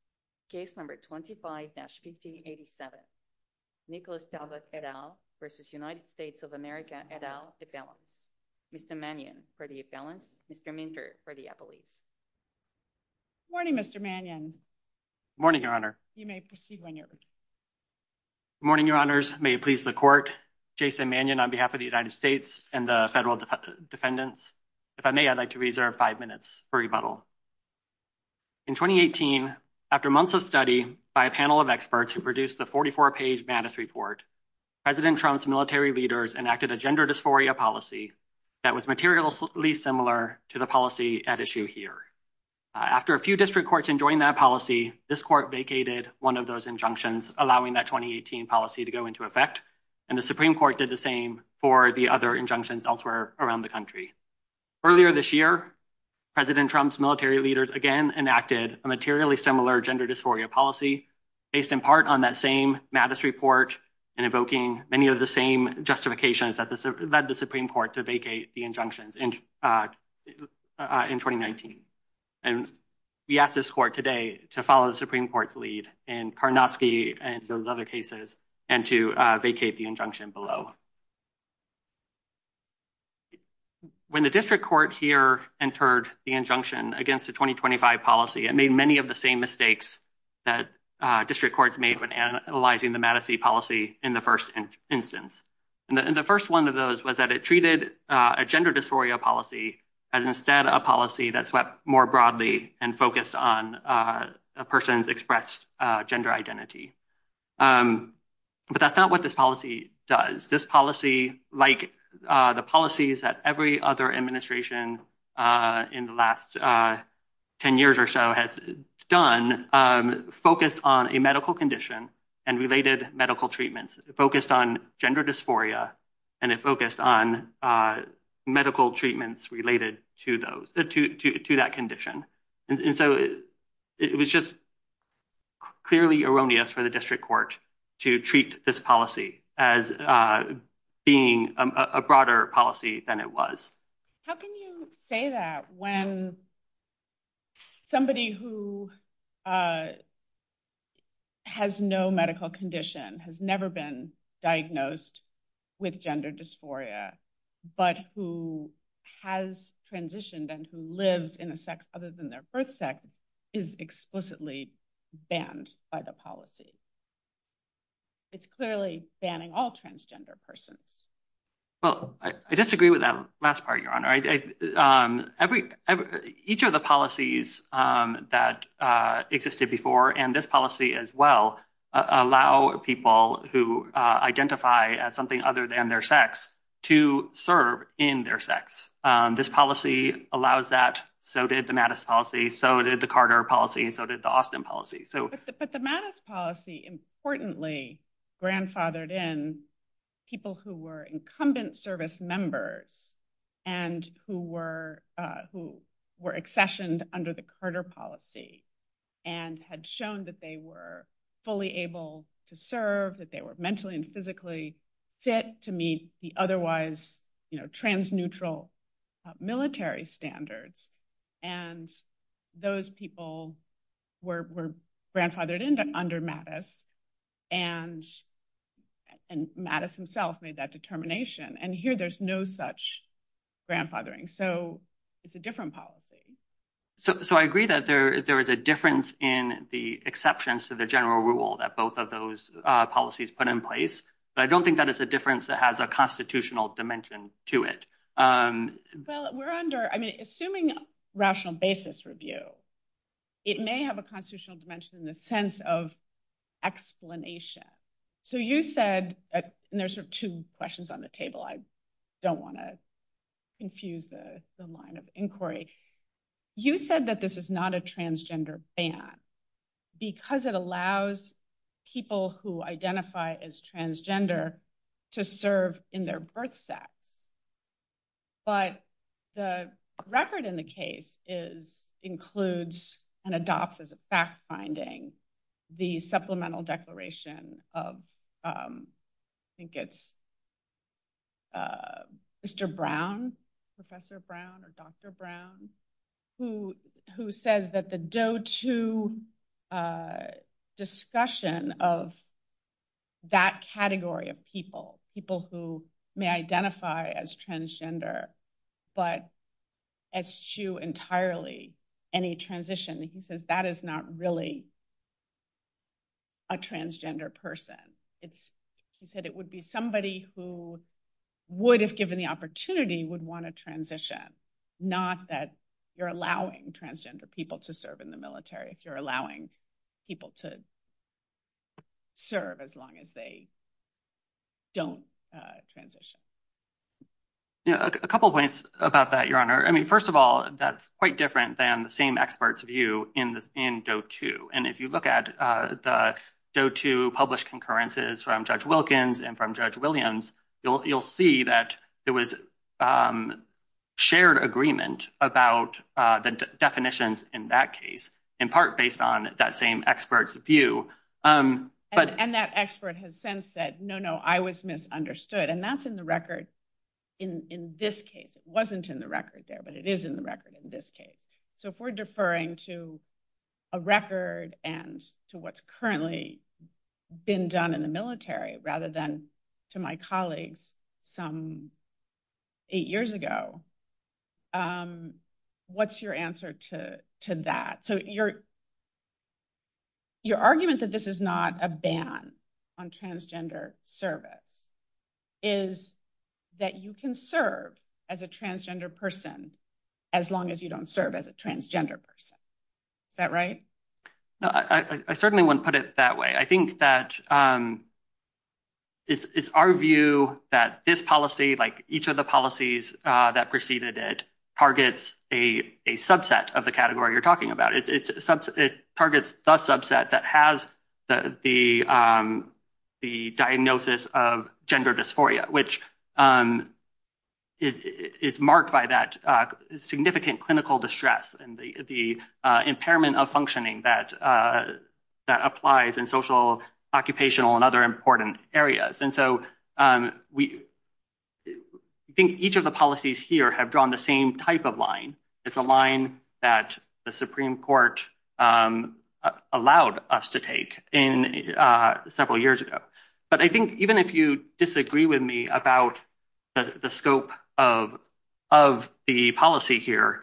of America et al, case number 25-PC87, Nicholas Talbott et al. v. United States of America et al. et valent. Mr. Mannion for the et valent, Mr. Minkert for the appellee. Morning, Mr. Mannion. Morning, Your Honor. You may proceed when you're ready. Morning, Your Honors. May it please the court, Jason Mannion on behalf of the United States and the federal defendants. If I may, I'd like to reserve five minutes for rebuttal. In 2018, after months of study by a panel of experts who produced the 44-page BANIS report, President Trump's military leaders enacted a gender dysphoria policy that was materially similar to the policy at issue here. After a few district courts enjoined that policy, this court vacated one of those injunctions, allowing that 2018 policy to go into effect, and the Supreme Court did the same for the other injunctions elsewhere around the country. Earlier this year, President Trump's military leaders again enacted a materially similar gender dysphoria policy based in part on that same BANIS report and evoking many of the same justifications that led the Supreme Court to vacate the injunctions in 2019. And we ask this court today to follow the Supreme Court's lead in Parnowski and those other cases and to vacate the injunction below. When the district court here entered the injunction against the 2025 policy, it made many of the same mistakes that district courts made when analyzing the Madison policy in the first instance. And the first one of those was that it treated a gender dysphoria policy as instead a policy that swept more broadly and focused on a person's expressed gender identity. But that's not what this policy does. This policy, like the policies that every other administration in the last 10 years or so has done, focused on a medical condition and related medical treatments, focused on gender dysphoria, and it focused on medical treatments related to that condition. And so it was just clearly erroneous for the district court to treat this policy as being a broader policy than it was. How can you say that when somebody who has no medical condition, has never been diagnosed with gender dysphoria, but who has transitioned and who lives in a sex other than their birth sex is explicitly banned by the policy? It's clearly banning all transgender persons. Well, I disagree with that last part, Your Honor. Each of the policies that existed before, and this policy as well, allow people who identify as something other than their sex to serve in their sex. This policy allows that, so did the Madison policy, so did the Carter policy, so did the Austin policy. But the Madison policy, importantly, grandfathered in people who were incumbent service members and who were accessioned under the Carter policy and had shown that they were fully able to serve, that they were mentally and physically fit to meet the otherwise trans-neutral military standards. And those people were grandfathered in under Mattis, and Mattis himself made that determination. And here there's no such grandfathering, so it's a different policy. So I agree that there is a difference in the exceptions to the general rule that both of those policies put in place, but I don't think that it's a difference that has a constitutional dimension to it. Well, assuming a rational basis review, it may have a constitutional dimension in the sense of explanation. So you said, and there's two questions on the table, I don't want to confuse the line of inquiry, you said that this is not a transgender ban because it allows people who identify as transgender to serve in their birth sex. But the record in the case includes and adopts as a fact-finding the supplemental declaration of, I think it's Mr. Brown, Professor Brown or Dr. Brown, who says that the do-to discussion of that category of people, people who may identify as transgender, but eschew entirely any transition, he says that is not really a transgender person. He said it would be somebody who would, if given the opportunity, would want to transition, not that you're allowing transgender people to serve in the military if you're allowing people to serve as long as they don't transition. A couple of points about that, Your Honor. I mean, first of all, that's quite different than the same expert's view in DOE 2. And if you look at the DOE 2 published concurrences from Judge Wilkins and from Judge Williams, you'll see that it was shared agreement about the definitions in that case, in part based on that same expert's view. And that expert has since said, no, no, I was misunderstood. And that's in the record in this case. It wasn't in the record there, but it is in the record in this case. So if we're deferring to a record and to what's currently been done in the military, rather than to my colleagues some eight years ago, what's your answer to that? So your argument that this is not a ban on transgender service is that you can serve as a transgender person as long as you don't serve as a transgender person. Is that right? I certainly wouldn't put it that way. I think that it's our view that this policy, like each of the policies that preceded it, targets a subset of the category you're talking about. It targets the subset that has the diagnosis of gender dysphoria, which is marked by that significant clinical distress and the impairment of functioning that applies in social, occupational, and other important areas. And so we think each of the policies here have drawn the same type of line. It's a line that the Supreme Court allowed us to take several years ago. But I think even if you disagree with me about the scope of the policy here,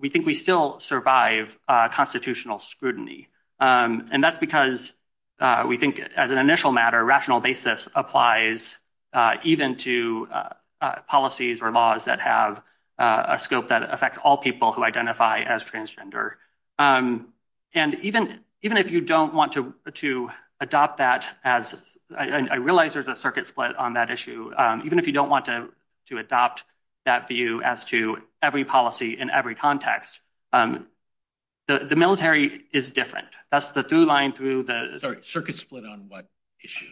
we think we still survive constitutional scrutiny. And that's because we think as an initial matter, a rational basis applies even to policies or laws that have a scope that affects all people who identify as transgender. And even if you don't want to adopt that as—I realize there's a circuit split on that issue—even if you don't want to adopt that view as to every policy in every context, the military is different. That's the through line through the— Sorry, circuit split on what issue?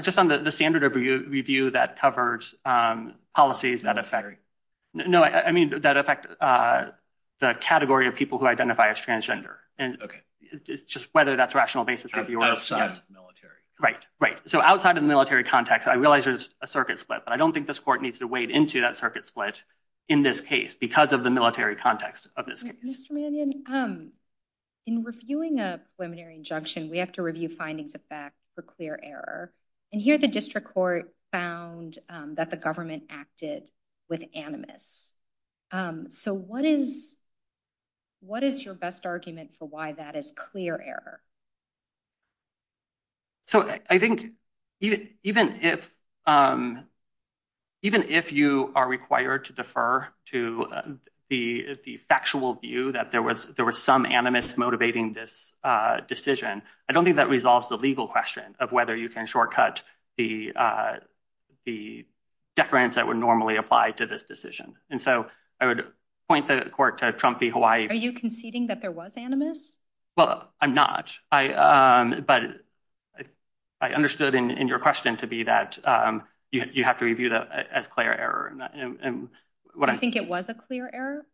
Just on the standard of review that covers policies that affect— No, I mean that affect the category of people who identify as transgender. Okay. And it's just whether that's a rational basis. Outside of the military. Right, right. So outside of the military context, I realize there's a circuit split, but I don't think this Court needs to wade into that circuit split in this case because of the military context of this case. Mr. Mannion, in reviewing a preliminary injunction, we have to review findings of fact for clear error. And here the District Court found that the government acted with animus. So what is your best argument for why that is clear error? So I think even if you are required to defer to the factual view that there was some animus motivating this decision, I don't think that resolves the legal question of whether you can shortcut the deference that would normally apply to this decision. And so I would point the Court to Trump v. Hawaii. Are you conceding that there was animus? Well, I'm not. But I understood in your question to be that you have to review that as clear error. Do you think it was a clear error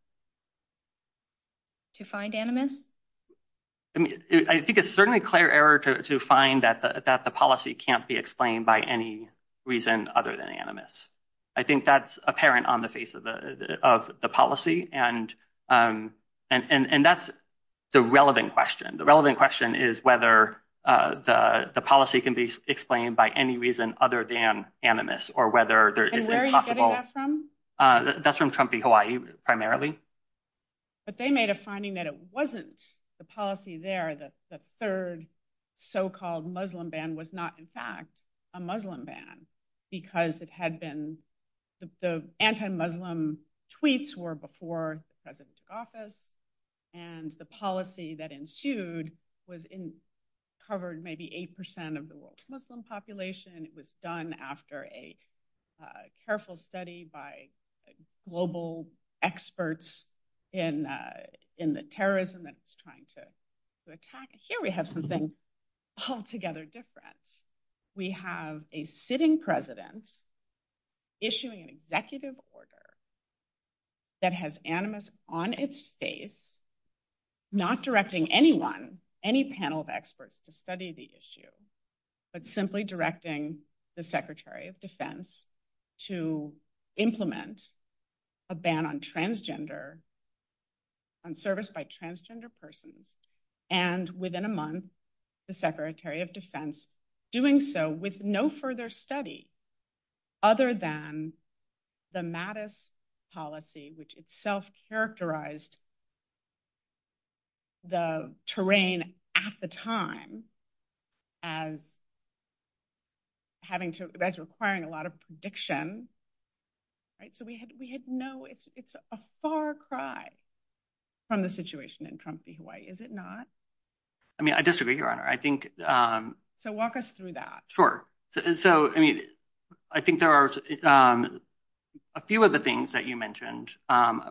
to find animus? I think it's certainly clear error to find that the policy can't be explained by any reason other than animus. I think that's apparent on the face of the policy. And that's the relevant question. The relevant question is whether the policy can be explained by any reason other than animus or whether there is a possible… That's from Trump v. Hawaii, primarily. But they made a finding that it wasn't the policy there that the third so-called Muslim ban was not in fact a Muslim ban because it had been… the anti-Muslim tweets were before the President's office and the policy that ensued covered maybe 8% of the world's Muslim population. It was done after a careful study by global experts in the terrorism that it's trying to attack. Here we have something altogether different. We have a sitting President issuing an executive order that has animus on its face, not directing anyone, any panel of experts to study the issue, but simply directing the Secretary of Defense to implement a ban on transgender, on service by transgender persons. And within a month, the Secretary of Defense, doing so with no further study other than the Mattis policy, which itself characterized the terrain at the time as having to… that's requiring a lot of prediction. So we had no… it's a far cry from the situation in Trump v. Hawaii, is it not? I mean, I disagree, Your Honor. I think… So walk us through that. Sure. So I think there are a few of the things that you mentioned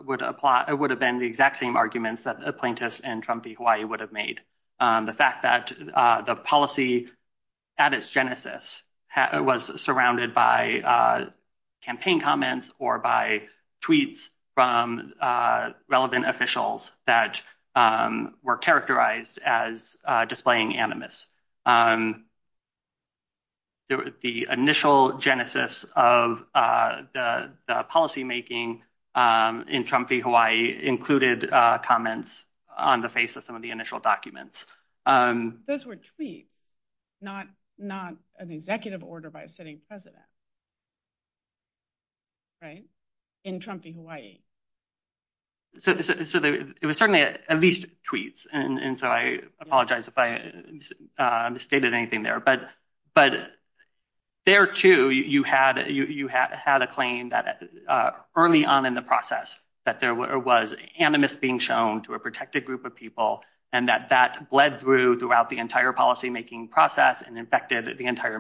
would have been the exact same arguments that the plaintiffs in Trump v. Hawaii would have made. The fact that the policy at its genesis was surrounded by campaign comments or by tweets from relevant officials that were characterized as displaying animus. The initial genesis of the policymaking in Trump v. Hawaii included comments on the face of some of the initial documents. Those were tweets, not an executive order by a sitting President. Right? In Trump v. Hawaii. So it was certainly at least tweets. And so I apologize if I misstated anything there. But there, too, you had a claim that early on in the process that there was animus being shown to a protected group of people and that that bled through throughout the entire policymaking process and affected the entire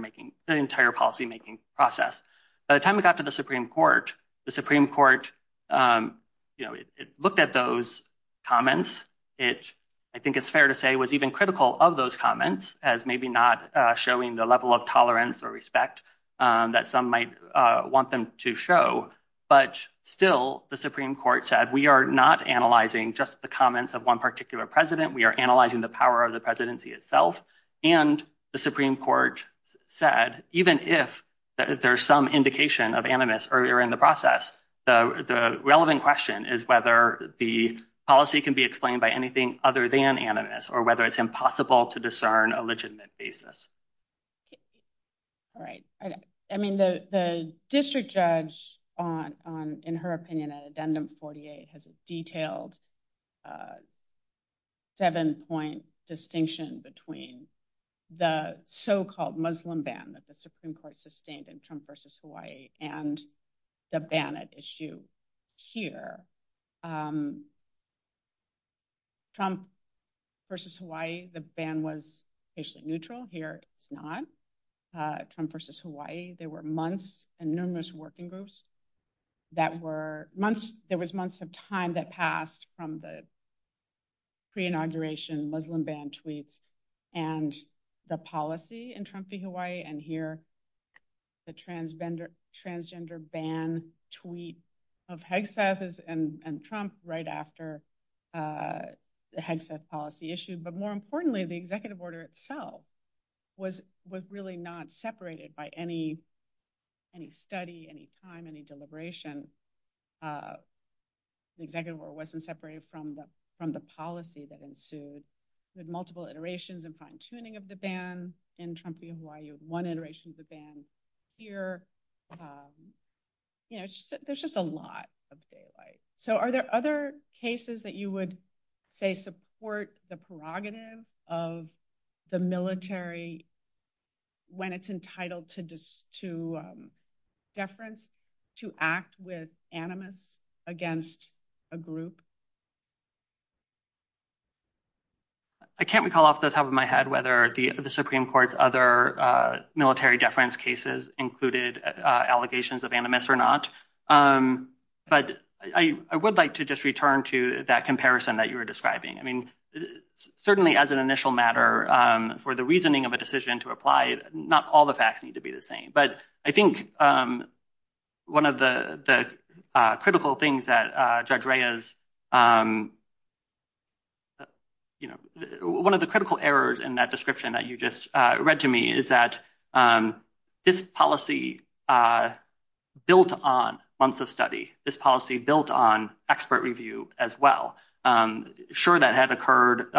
policymaking process. By the time we got to the Supreme Court, the Supreme Court looked at those comments. I think it's fair to say it was even critical of those comments as maybe not showing the level of tolerance or respect that some might want them to show. But still, the Supreme Court said, we are not analyzing just the comments of one particular president. We are analyzing the power of the presidency itself. And the Supreme Court said, even if there's some indication of animus earlier in the process, the relevant question is whether the policy can be explained by anything other than animus or whether it's impossible to discern a legitimate basis. All right. I mean, the district judge, in her opinion, in Addendum 48, has a detailed seven-point distinction between the so-called Muslim ban that the Supreme Court sustained in Trump v. Hawaii and the ban at issue here. Trump v. Hawaii, the ban was patient-neutral. Here, it's not. Trump v. Hawaii, there were months and numerous working groups that were – there was months of time that passed from the pre-inauguration Muslim ban tweets and the policy in Trump v. Hawaii. And here, the transgender ban tweet of HGSAF and Trump right after the HGSAF policy issued. But more importantly, the executive order itself was really not separated by any study, any time, any deliberation. The executive order wasn't separated from the policy that ensued with multiple iterations and fine-tuning of the ban in Trump v. Hawaii, one iteration of the ban here. There's just a lot of daylight. So are there other cases that you would say support the prerogative of the military when it's entitled to deference, to act with animus against a group? I can't recall off the top of my head whether the Supreme Court's other military deference cases included allegations of animus or not. But I would like to just return to that comparison that you were describing. I mean, certainly as an initial matter, for the reasoning of a decision to apply, not all the facts need to be the same. But I think one of the critical errors in that description that you just read to me is that this policy built on months of study, this policy built on expert review as well. Sure, that had occurred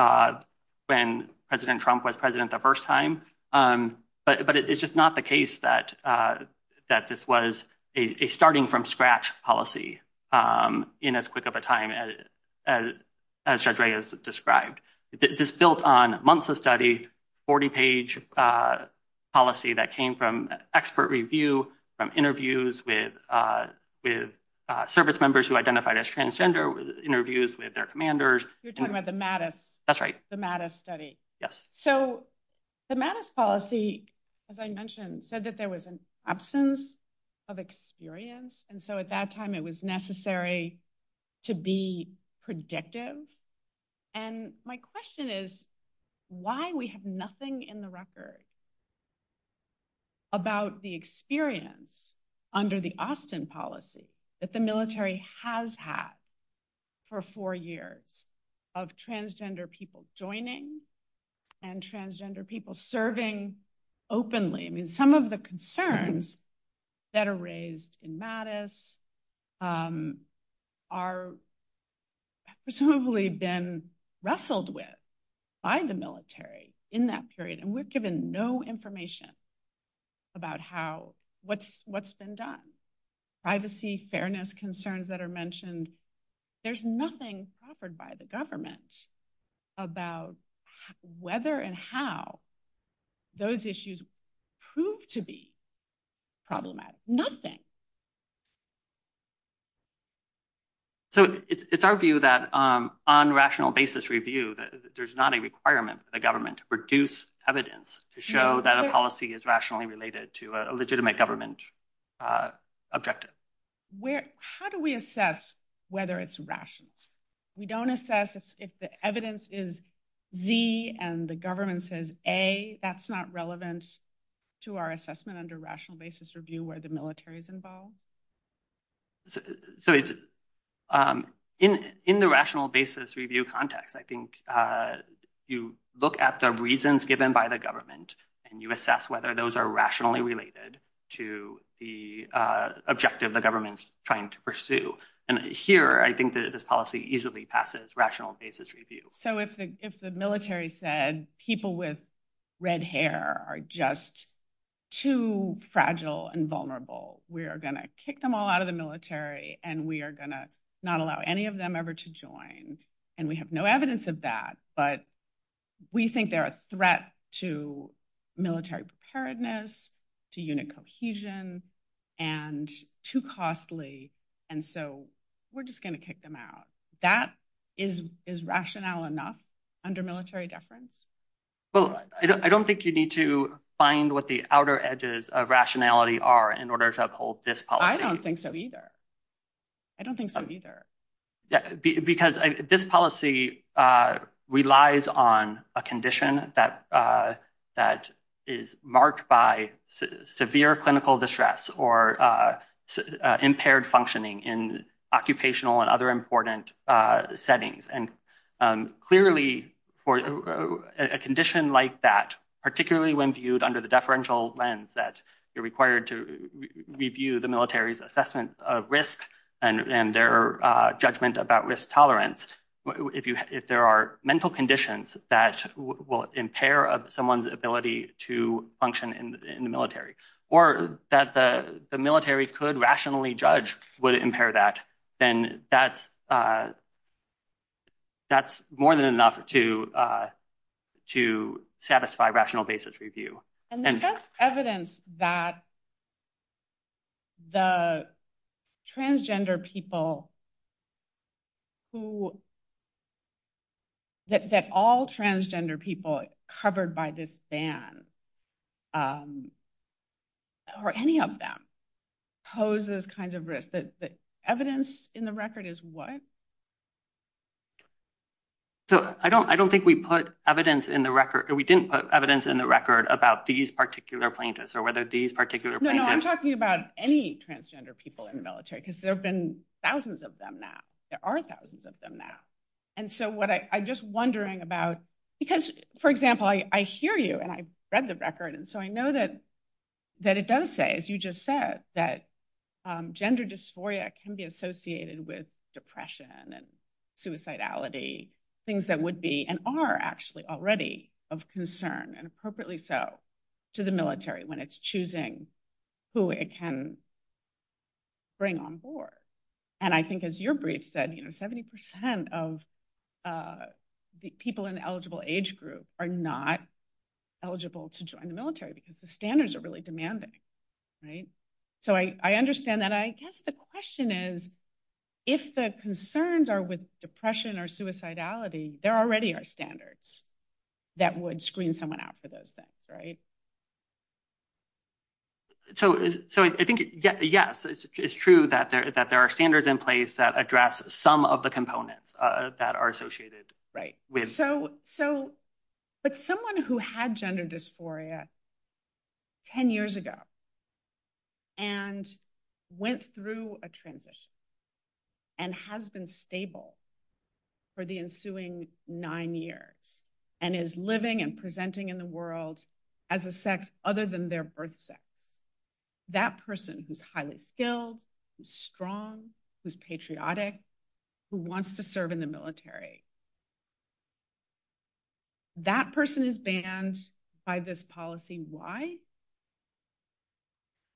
when President Trump was president the first time, but it's just not the case that this was a starting-from-scratch policy in as quick of a time as Shadray has described. This is built on months of study, 40-page policy that came from expert review, from interviews with service members who identified as transgender, interviews with their commanders. You're talking about the Mattis. That's right. The Mattis study. Yes. So the Mattis policy, as I mentioned, said that there was an absence of experience, and so at that time it was necessary to be predictive. And my question is why we have nothing in the record about the experience under the Austin policy that the military has had for four years of transgender people joining and transgender people serving openly. I mean, some of the concerns that are raised in Mattis are presumably then wrestled with by the military in that period, and we've given no information about what's been done. Privacy, fairness concerns that are mentioned, there's nothing offered by the government about whether and how those issues prove to be problematic. So it's our view that on rational basis review that there's not a requirement for the government to produce evidence to show that a policy is rationally related to a legitimate government objective. How do we assess whether it's rationed? We don't assess if the evidence is Z and the government says A. That's not relevant to our assessment under rational basis review where the military is involved. So in the rational basis review context, I think you look at the reasons given by the government and you assess whether those are rationally related to the objective the government's trying to pursue. And here I think this policy easily passes rational basis review. So if the military said people with red hair are just too fragile and vulnerable, we are going to kick them all out of the military and we are going to not allow any of them ever to join. And we have no evidence of that, but we think they're a threat to military preparedness, to unit cohesion, and too costly, and so we're just going to kick them out. That is rational enough under military deference? Well, I don't think you need to find what the outer edges of rationality are in order to uphold this policy. I don't think so either. I don't think so either. Because this policy relies on a condition that is marked by severe clinical distress or impaired functioning in occupational and other important settings. And clearly for a condition like that, particularly when viewed under the deferential lens that you're required to review the military's assessment of risk and their judgment about risk tolerance, if there are mental conditions that will impair someone's ability to function in the military, or that the military could rationally judge would impair that, then that's more than enough to satisfy rational basis review. And that's evidence that all transgender people covered by this ban, or any of them, pose this kind of risk. The evidence in the record is what? So I don't think we put evidence in the record, or we didn't put evidence in the record about these particular plaintiffs, or whether these particular plaintiffs. No, no, I'm talking about any transgender people in the military, because there have been thousands of them now. There are thousands of them now. And so what I'm just wondering about, because, for example, I hear you, and I read the record, and so I know that it does say, as you just said, that gender dysphoria can be associated with depression and suicidality, things that would be and are actually already of concern, and appropriately so, to the military when it's choosing who it can bring on board. And I think, as your brief said, 70% of people in the eligible age group are not eligible to join the military, because the standards are really demanding, right? So I understand that. I guess the question is, if the concerns are with depression or suicidality, there already are standards that would screen someone out for those things, right? So I think, yes, it's true that there are standards in place that address some of the components that are associated with… …of the sex other than their birth sex. That person who's highly skilled, who's strong, who's patriotic, who wants to serve in the military, that person is banned by this policy. Why?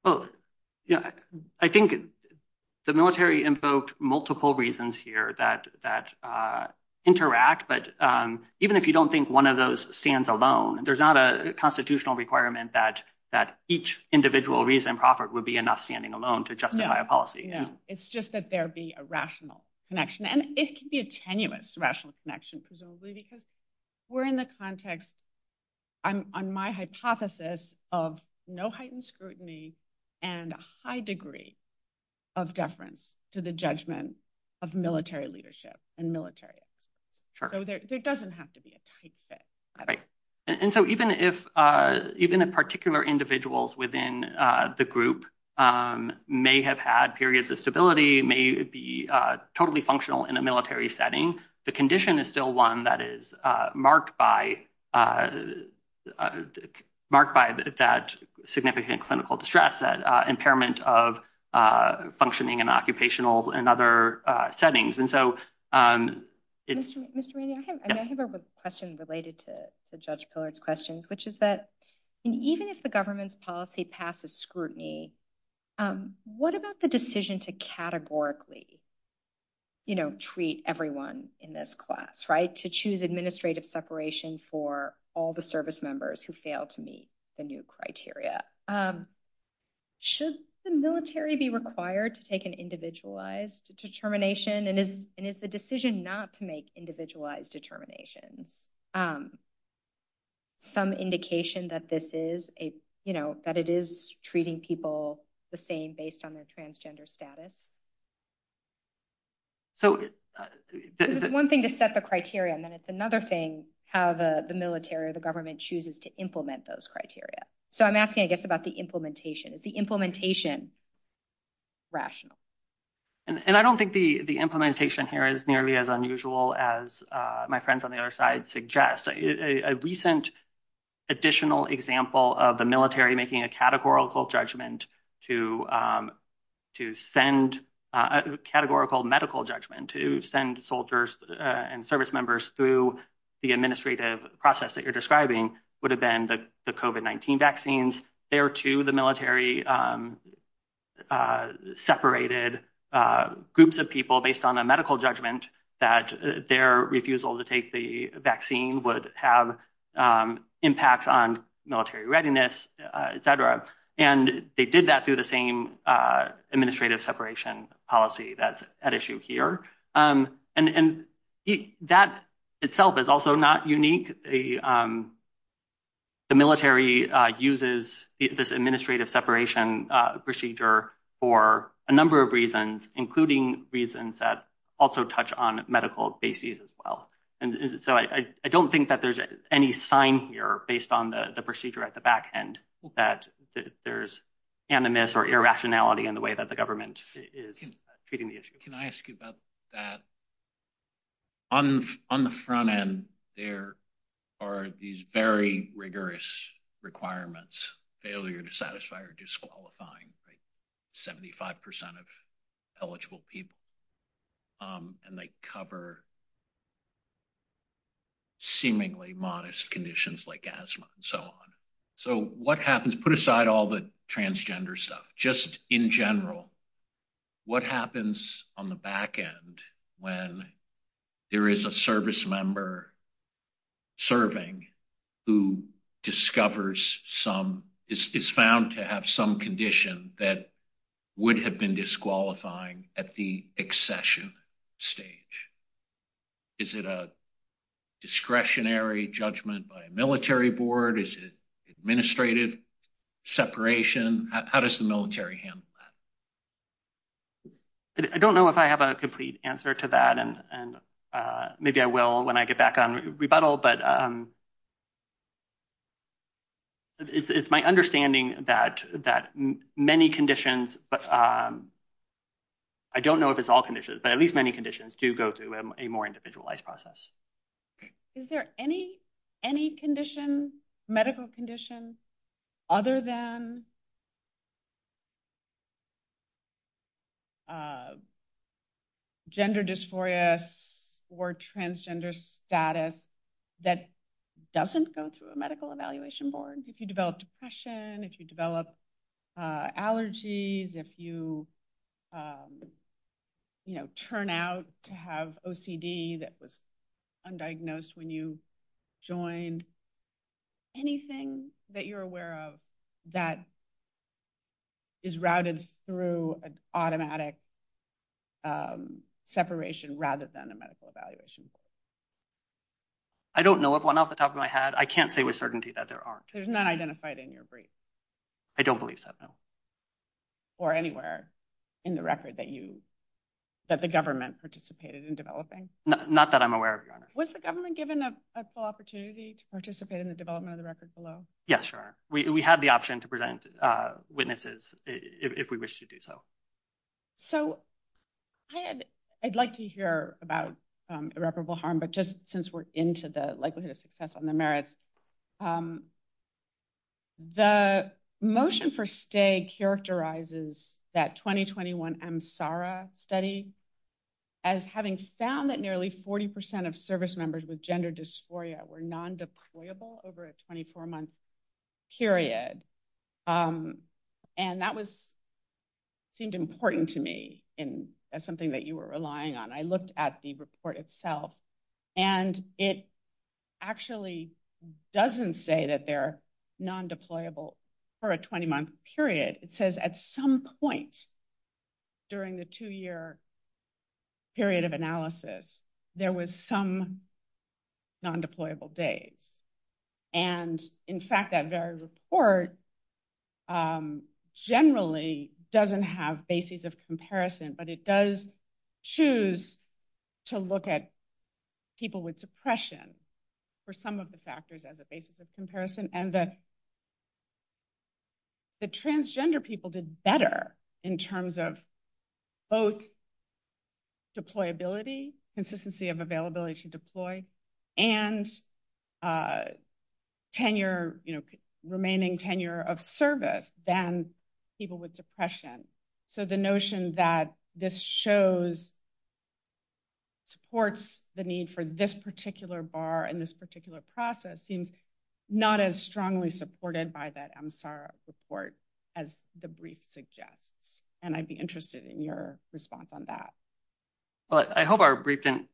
I think the military invoked multiple reasons here that interact, but even if you don't think one of those stands alone, there's not a constitutional requirement that each individual reason proffered would be enough standing alone to justify a policy. It's just that there'd be a rational connection, and it can be a tenuous rational connection, presumably, because we're in the context, on my hypothesis, of no heightened scrutiny and a high degree of deference to the judgment of military leadership and military. So there doesn't have to be a tight fit. Right. And so even if particular individuals within the group may have had periods of stability, may be totally functional in a military setting, the condition is still one that is marked by that significant clinical distress, that impairment of functioning in occupational and other settings. Mr. Rainey, I have a question related to Judge Pillard's questions, which is that even if the government's policy passes scrutiny, what about the decision to categorically treat everyone in this class, right, to choose administrative separation for all the service members who fail to meet the new criteria? Should the military be required to take an individualized determination, and is the decision not to make individualized determinations some indication that this is a, you know, that it is treating people the same based on their transgender status? This is one thing to set the criteria, and then it's another thing how the military or the government chooses to implement those criteria. So I'm asking, I guess, about the implementation. Is the implementation rational? And I don't think the implementation here is nearly as unusual as my friends on the other side suggest. A recent additional example of the military making a categorical judgment to send, a categorical medical judgment to send soldiers and service members through the administrative process that you're describing would have been the COVID-19 vaccines. And there, too, the military separated groups of people based on a medical judgment that their refusal to take the vaccine would have impacts on military readiness, etc. And they did that through the same administrative separation policy that's at issue here. And that itself is also not unique. The military uses this administrative separation procedure for a number of reasons, including reasons that also touch on medical bases as well. And so I don't think that there's any sign here based on the procedure at the back end that there's animus or irrationality in the way that the government is treating the issue. Can I ask about that? On the front end, there are these very rigorous requirements, failure to satisfy or disqualifying 75% of eligible people. And they cover seemingly modest conditions like asthma and so on. So what happens – put aside all the transgender stuff. Just in general, what happens on the back end when there is a service member serving who discovers some – is found to have some condition that would have been disqualifying at the accession stage? Is it a discretionary judgment by a military board? Is it administrative separation? How does the military handle that? I don't know if I have a complete answer to that. And maybe I will when I get back on rebuttal. But it's my understanding that many conditions – I don't know if it's all conditions, but at least many conditions do go through a more individualized process. Is there any condition, medical condition, other than gender dysphoria or transgender status that doesn't go through a medical evaluation board? If you develop depression, if you develop allergies, if you turn out to have OCD that was undiagnosed when you joined, anything that you're aware of that is routed through an automatic separation rather than a medical evaluation board? I don't know of one off the top of my head. I can't say with certainty that there aren't. It's not identified in your brief? I don't believe so, no. Or anywhere in the record that you – that the government participated in developing? Not that I'm aware of, your Honor. Was the government given a full opportunity to participate in the development of the record below? Yes, Your Honor. We had the option to present witnesses if we wished to do so. So, I'd like to hear about irreparable harm, but just since we're into the likelihood of success on the merits, the motion for stay characterizes that 2021 MSARA study as having found that nearly 40% of service members with gender dysphoria were non-deployable over a 24-month period. And that seemed important to me, and that's something that you were relying on. I looked at the report itself, and it actually doesn't say that they're non-deployable for a 20-month period. It says at some point during the two-year period of analysis, there was some non-deployable days. And in fact, that very report generally doesn't have basis of comparison, but it does choose to look at people with depression for some of the factors as a basis of comparison. And the transgender people did better in terms of both deployability, consistency of availability to deploy, and tenure, remaining tenure of service than people with depression. So, the notion that this supports the need for this particular bar and this particular process seems not as strongly supported by that MSARA report as the brief suggests, and I'd be interested in your response on that. Well, I hope our brief didn't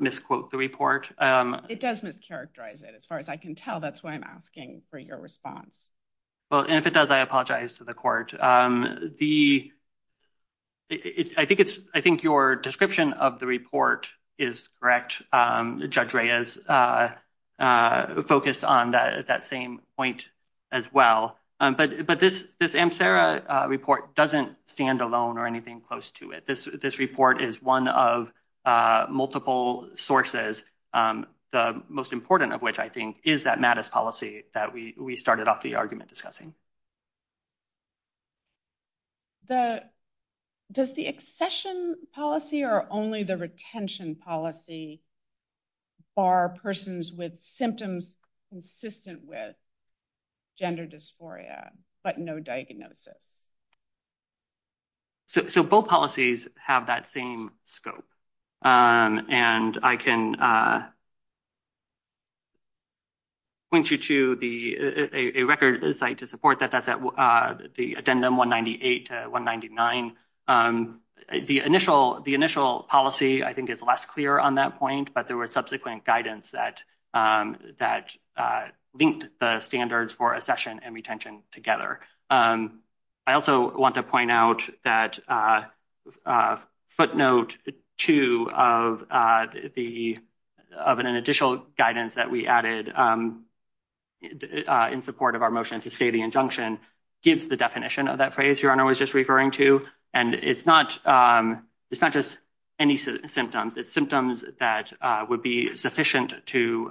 misquote the report. It does mischaracterize it. As far as I can tell, that's why I'm asking for your response. Well, if it does, I apologize to the court. I think your description of the report is correct. Judge Reyes focused on that same point as well. But this MSARA report doesn't stand alone or anything close to it. This report is one of multiple sources, the most important of which, I think, is that MADIS policy that we started off the argument discussing. Does the accession policy or only the retention policy bar persons with symptoms consistent with gender dysphoria but no diagnosis? So, both policies have that same scope, and I can point you to a record site to support that, the addendum 198 to 199. The initial policy, I think, is less clear on that point, but there were subsequent guidance that linked the standards for accession and retention together. I also want to point out that footnote 2 of an additional guidance that we added in support of our motion to state the injunction gives the definition of that phrase Your Honor was just referring to. And it's not just any symptoms. It's symptoms that would be sufficient to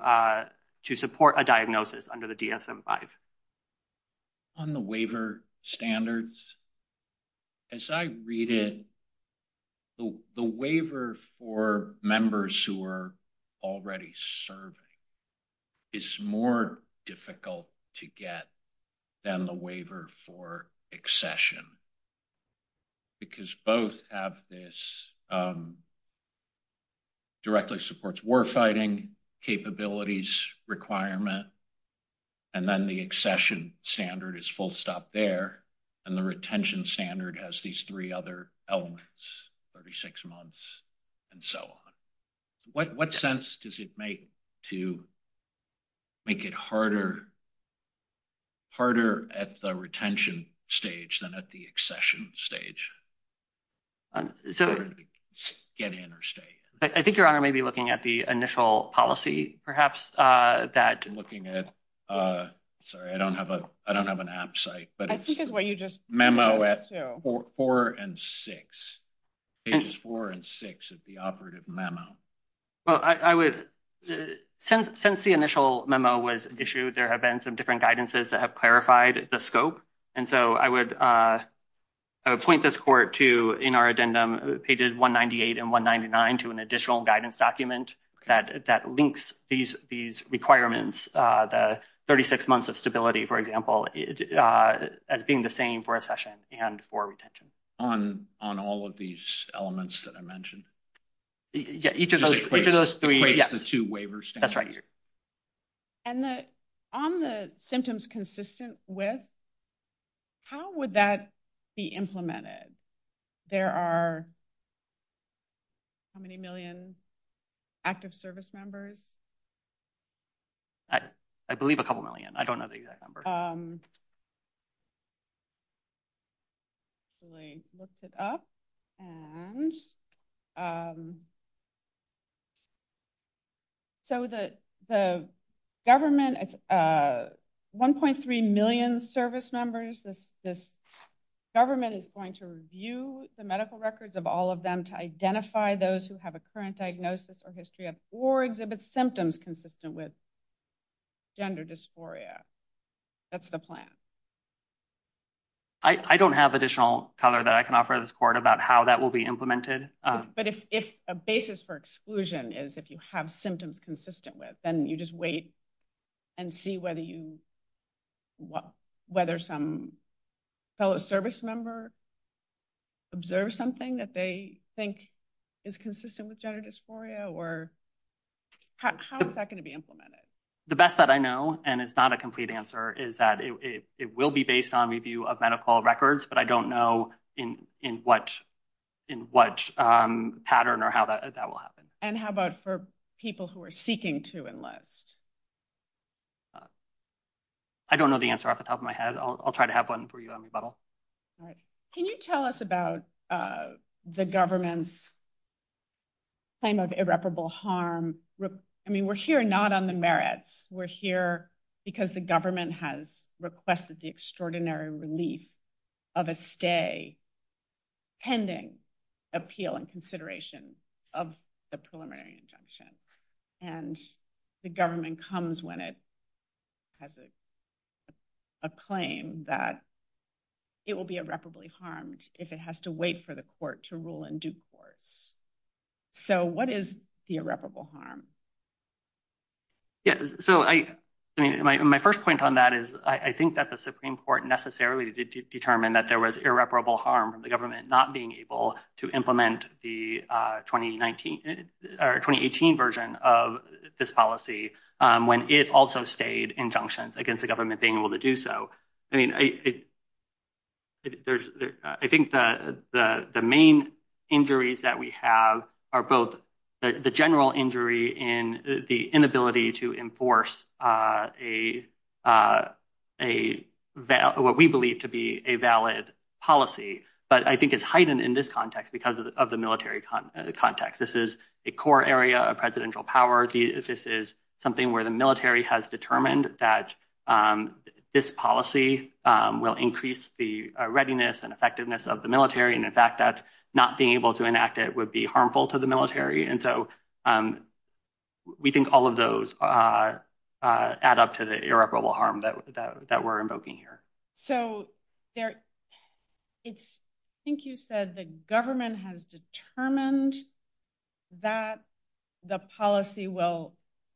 support a diagnosis under the DSM-5. On the waiver standards, as I read it, the waiver for members who are already serving is more difficult to get than the waiver for accession. Because both of this directly supports warfighting capabilities requirement, and then the accession standard is full stop there, and the retention standard has these three other elements, 36 months, and so on. What sense does it make to make it harder at the retention stage than at the accession stage? I think Your Honor may be looking at the initial policy, perhaps, that Sorry, I don't have an app site, but it's memo at pages 4 and 6 of the operative memo. Well, I would, since the initial memo was issued, there have been some different guidances that have clarified the scope. And so I would point this court to, in our addendum, pages 198 and 199 to an additional guidance document that links these requirements, the 36 months of stability, for example, as being the same for accession and for retention. On all of these elements that I mentioned? Yeah, each of those three. The two waivers. That's right. And on the symptoms consistent with, how would that be implemented? There are how many million active service members? I believe a couple million. I don't know the exact number. So the government, 1.3 million service members, the government is going to review the medical records of all of them to identify those who have a current diagnosis or history of, or exhibit symptoms consistent with, gender dysphoria. That's the plan. I don't have additional cover that I can offer this court about how that will be implemented. But if a basis for exclusion is if you have symptoms consistent with, then you just wait and see whether some fellow service member observes something that they think is consistent with gender dysphoria, or how is that going to be implemented? The best that I know, and it's not a complete answer, is that it will be based on review of medical records, but I don't know in what pattern or how that will happen. And how about for people who are seeking to enlist? I don't know the answer off the top of my head. I'll try to have one for you on your level. Can you tell us about the government's claim of irreparable harm? I mean, we're here not on the merits. We're here because the government has requested the extraordinary relief of a stay pending appeal and consideration of the preliminary injunction. And the government comes when it has a claim that it will be irreparably harmed if it has to wait for the court to rule and do courts. So what is the irreparable harm? So my first point on that is I think that the Supreme Court necessarily determined that there was irreparable harm from the government not being able to implement the 2018 version of this policy when it also stayed injunctions against the government being able to do so. I think the main injuries that we have are both the general injury in the inability to enforce what we believe to be a valid policy, but I think it's heightened in this context because of the military context. This is a core area of presidential power. This is something where the military has determined that this policy will increase the readiness and effectiveness of the military and the fact that not being able to enact it would be harmful to the military. And so we think all of those add up to the irreparable harm that we're invoking here. So I think you said the government has determined that the policy will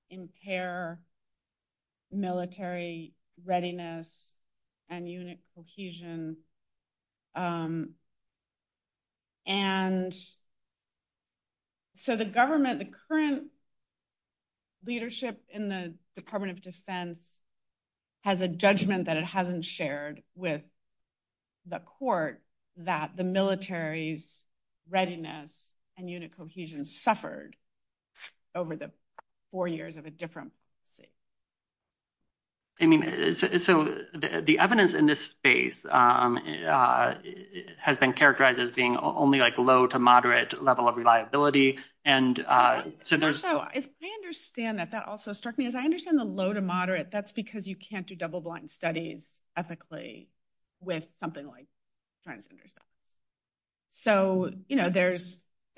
impair military readiness and unit cohesion. And so the government, the current leadership in the Department of Defense has a judgment that it hasn't shared with the court that the military's readiness and unit cohesion suffered over the four years of a different policy. I mean, so the evidence in this space has been characterized as being only like low to moderate level of reliability, and so there's... I understand that that also struck me. As I understand the low to moderate, that's because you can't do double blind studies ethically with something like transgender studies. So there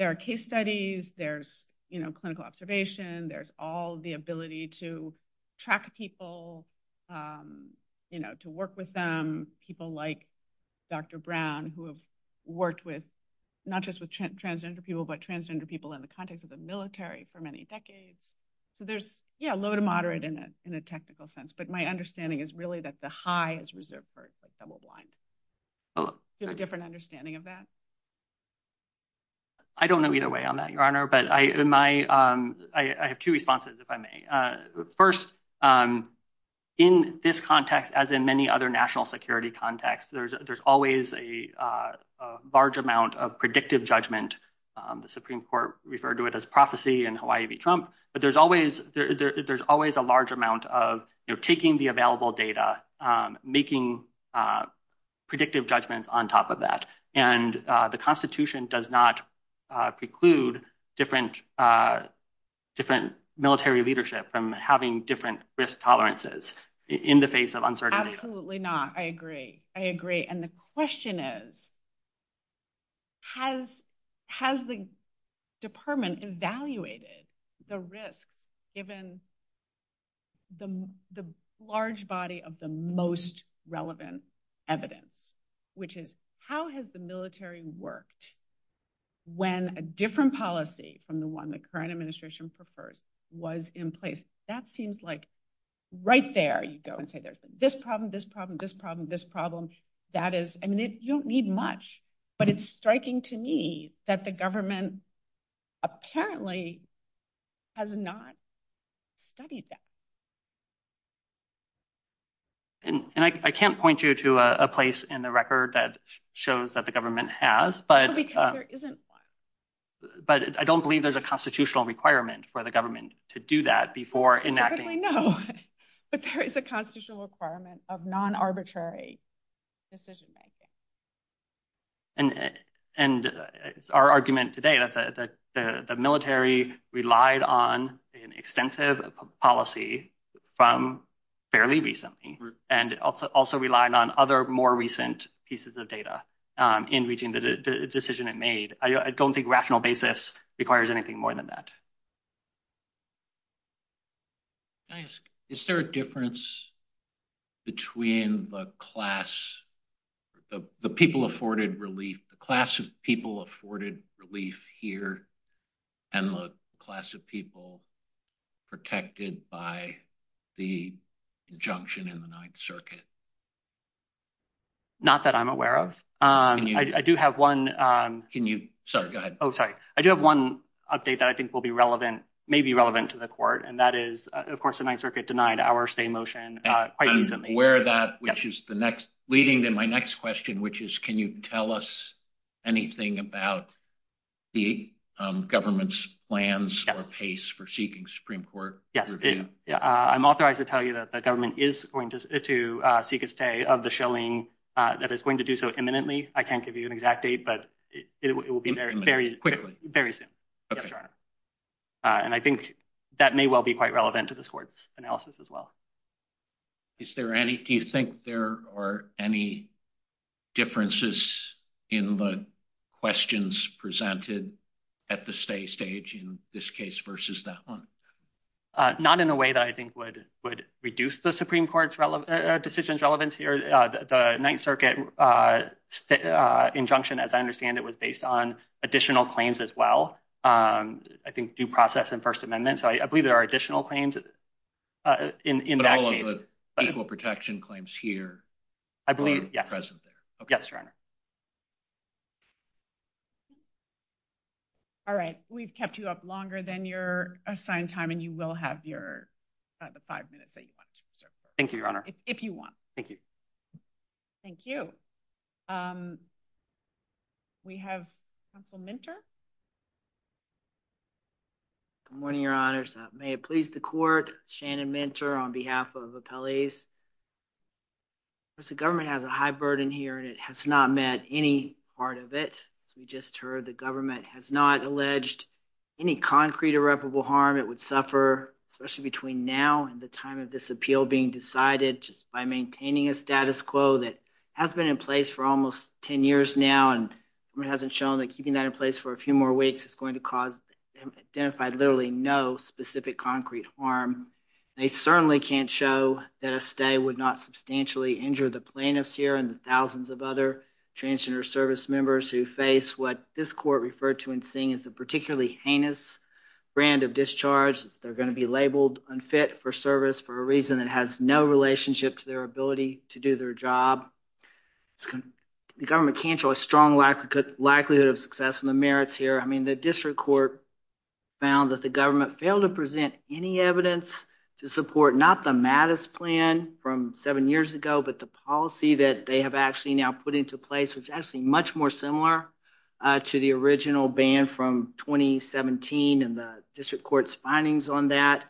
are case studies, there's clinical observation, there's all the ability to track people, to work with them. People like Dr. Brown, who have worked with not just with transgender people, but transgender people in the context of the military for many decades. So there's low to moderate in a technical sense, but my understanding is really that the high is reserved for double blind. Do you have a different understanding of that? I don't know either way on that, Your Honor, but I have two responses, if I may. First, in this context, as in many other national security contexts, there's always a large amount of predictive judgment. The Supreme Court referred to it as prophecy in Hawaii v. Trump, but there's always a large amount of taking the available data, making predictive judgment on top of that. And the Constitution does not preclude different military leadership from having different risk tolerances in the face of uncertainty. Absolutely not. I agree. I agree. And the question is, has the department evaluated the risk given the large body of the most relevant evidence? Which is, how has the military worked when a different policy from the one the current administration prefers was in place? That seems like right there you go and say there's this problem, this problem, this problem, this problem. That is, I mean, you don't need much, but it's striking to me that the government apparently has not studied that. And I can't point you to a place in the record that shows that the government has, but I don't believe there's a constitutional requirement for the government to do that before enacting. But there is a constitutional requirement of non-arbitrary decision-making. And our argument today is that the military relied on an extensive policy from fairly recently and also relied on other more recent pieces of data in reaching the decision it made. I don't think rational basis requires anything more than that. Can I ask, is there a difference between the class, the people afforded relief, the class of people afforded relief here and the class of people protected by the injunction in the Ninth Circuit? Not that I'm aware of. I do have one. Can you, sorry, go ahead. Oh, sorry. I do have one update that I think will be relevant, may be relevant to the court, and that is, of course, the Ninth Circuit denied our stay motion. I'm aware of that, which is the next, leading to my next question, which is, can you tell us anything about the government's plans or pace for seeking Supreme Court review? I'm authorized to tell you that the government is going to seek a stay of the shilling that is going to do so imminently. I can't give you an exact date, but it will be there very soon. And I think that may well be quite relevant to the court's analysis as well. Is there any, do you think there are any differences in the questions presented at the stay stage in this case versus that one? Not in a way that I think would reduce the Supreme Court's decisions relevance here. The Ninth Circuit injunction, as I understand it, was based on additional claims as well. I think due process and First Amendment. I believe there are additional claims in that case. But all of the equal protection claims here are present there. Yes, Your Honor. All right. We've kept you up longer than your assigned time, and you will have your five minutes that you want to reserve. Thank you, Your Honor. If you want. Thank you. Thank you. We have Counsel Minter. Good morning, Your Honor. May it please the court, Shannon Minter on behalf of Appellees. The government has a high burden here, and it has not met any part of it. We just heard the government has not alleged any concrete irreparable harm it would suffer, especially between now and the time of this appeal being decided, just by maintaining a status quo that has been in place for almost ten years now, and hasn't shown that keeping that in place for a few more weeks is going to cause and identify literally no specific concrete harm. They certainly can't show that a stay would not substantially injure the plaintiffs here and the thousands of other transgender service members who face what this court referred to in seeing as a particularly heinous brand of discharge. They're going to be labeled unfit for service for a reason that has no relationship to their ability to do their job. The government can't show a strong likelihood of success in the merits here. I mean, the district court found that the government failed to present any evidence to support, not the Mattis plan from seven years ago, but the policy that they have actually now put into place, which is actually much more similar to the original ban from 2017, and the district court's findings on that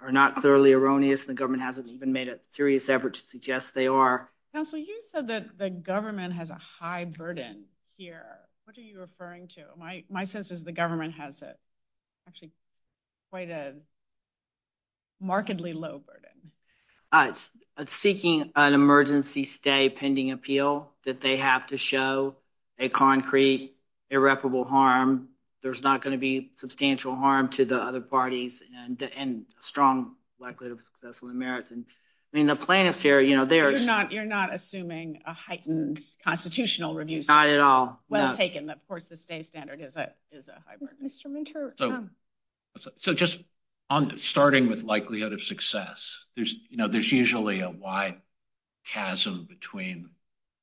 are not thoroughly erroneous, and the government hasn't even made a serious effort to suggest they are. Counsel, you said that the government has a high burden here. What are you referring to? My sense is the government has actually quite a markedly low burden. It's seeking an emergency stay pending appeal that they have to show a concrete irreparable harm. There's not going to be substantial harm to the other parties and a strong likelihood of successful merits. I mean, the plaintiffs here, you know, they're- You're not assuming a heightened constitutional review. Not at all. Well taken, but of course the state standard is a high burden. Mr. Minter. So just starting with likelihood of success, you know, there's usually a wide chasm between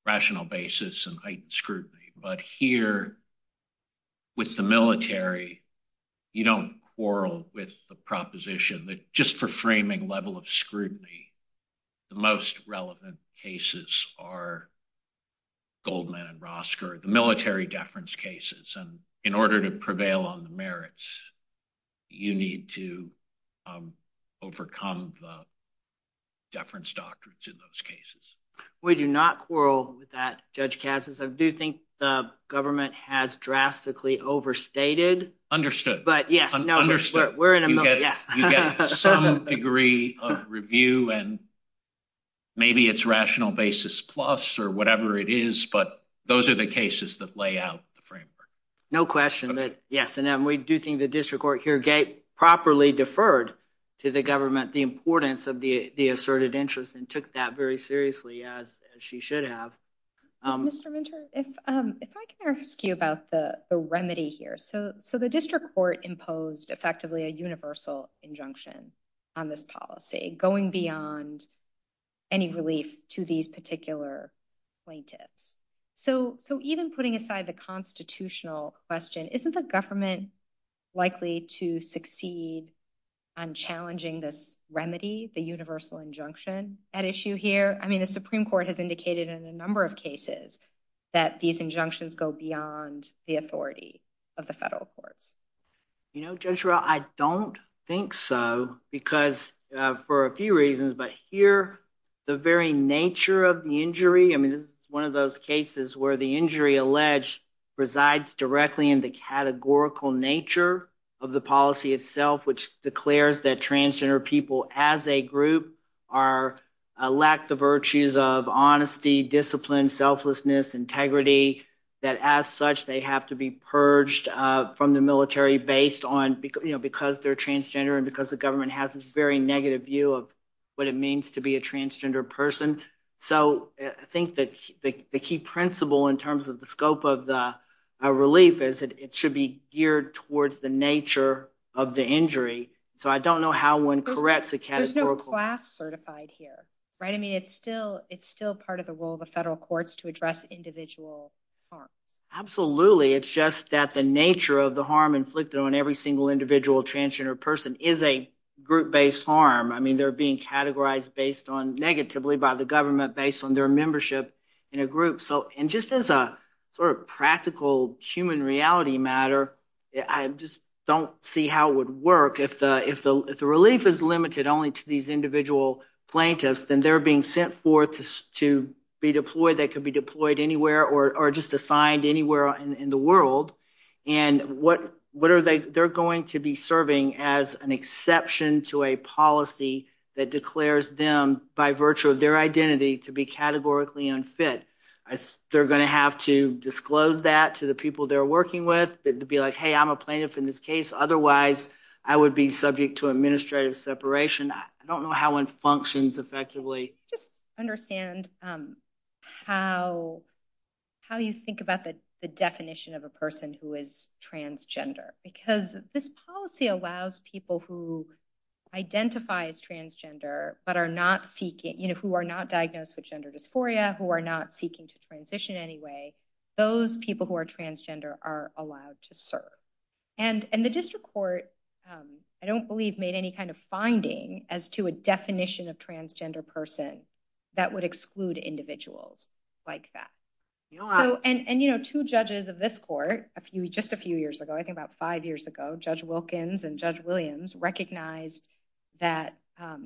rational basis and heightened scrutiny, but here with the military, you don't quarrel with the proposition that just for framing level of scrutiny, the most relevant cases are Goldman and Rosker, the military deference cases. And in order to prevail on the merits, you need to overcome the deference doctrines in those cases. We do not quarrel with that, Judge Katsas. I do think the government has drastically overstated. Understood. But yeah, no. You get some degree of review and maybe it's rational basis plus or whatever it is, but those are the cases that lay out the framework. No question. Yes. And then we do think the district court here properly deferred to the government the importance of the asserted interest and took that very seriously as she should have. Mr. Minter, if I can ask you about the remedy here. So the district court imposed effectively a universal injunction on this policy, going beyond any relief to these particular plaintiffs. So even putting aside the constitutional question, isn't the government likely to succeed on challenging this remedy, the universal injunction at issue here? I mean, the Supreme Court has indicated in a number of cases that these injunctions go beyond the authority of the federal court. You know, Judge Rowell, I don't think so because for a few reasons, but here the very nature of the injury, I mean, it's one of those cases where the injury alleged resides directly in the categorical nature of the policy itself, which declares that transgender people as a group lack the virtues of honesty, discipline, selflessness, integrity, that as such they have to be purged from the military based on, you know, because they're transgender and because the government has this very negative view of what it means to be a transgender person. So I think that the key principle in terms of the scope of the relief is that it should be geared towards the nature of the injury. So I don't know how one corrects the categorical. Is there a class certified here? Right, I mean, it's still part of the role of the federal courts to address individual harm. Absolutely. It's just that the nature of the harm inflicted on every single individual transgender person is a group based harm. I mean, they're being categorized based on negatively by the government based on their membership in a group. So and just as a sort of practical human reality matter, I just don't see how it would work. If the relief is limited only to these individual plaintiffs, then they're being sent forth to be deployed. They could be deployed anywhere or just assigned anywhere in the world. And what are they? They're going to be serving as an exception to a policy that declares them by virtue of their identity to be categorically unfit. They're going to have to disclose that to the people they're working with. So I don't know if it would be like, hey, I'm a plaintiff in this case. Otherwise, I would be subject to administrative separation. I don't know how it functions effectively. Just understand how you think about the definition of a person who is transgender. Because this policy allows people who identify as transgender but are not seeking, you know, who are not diagnosed with gender dysphoria, who are not seeking to transition anyway, those people who are transgender are allowed to serve. And the district court, I don't believe, made any kind of finding as to a definition of transgender person that would exclude individuals like that. And, you know, two judges of this court just a few years ago, I think about five years ago, Judge Wilkins and Judge Williams, recognized that,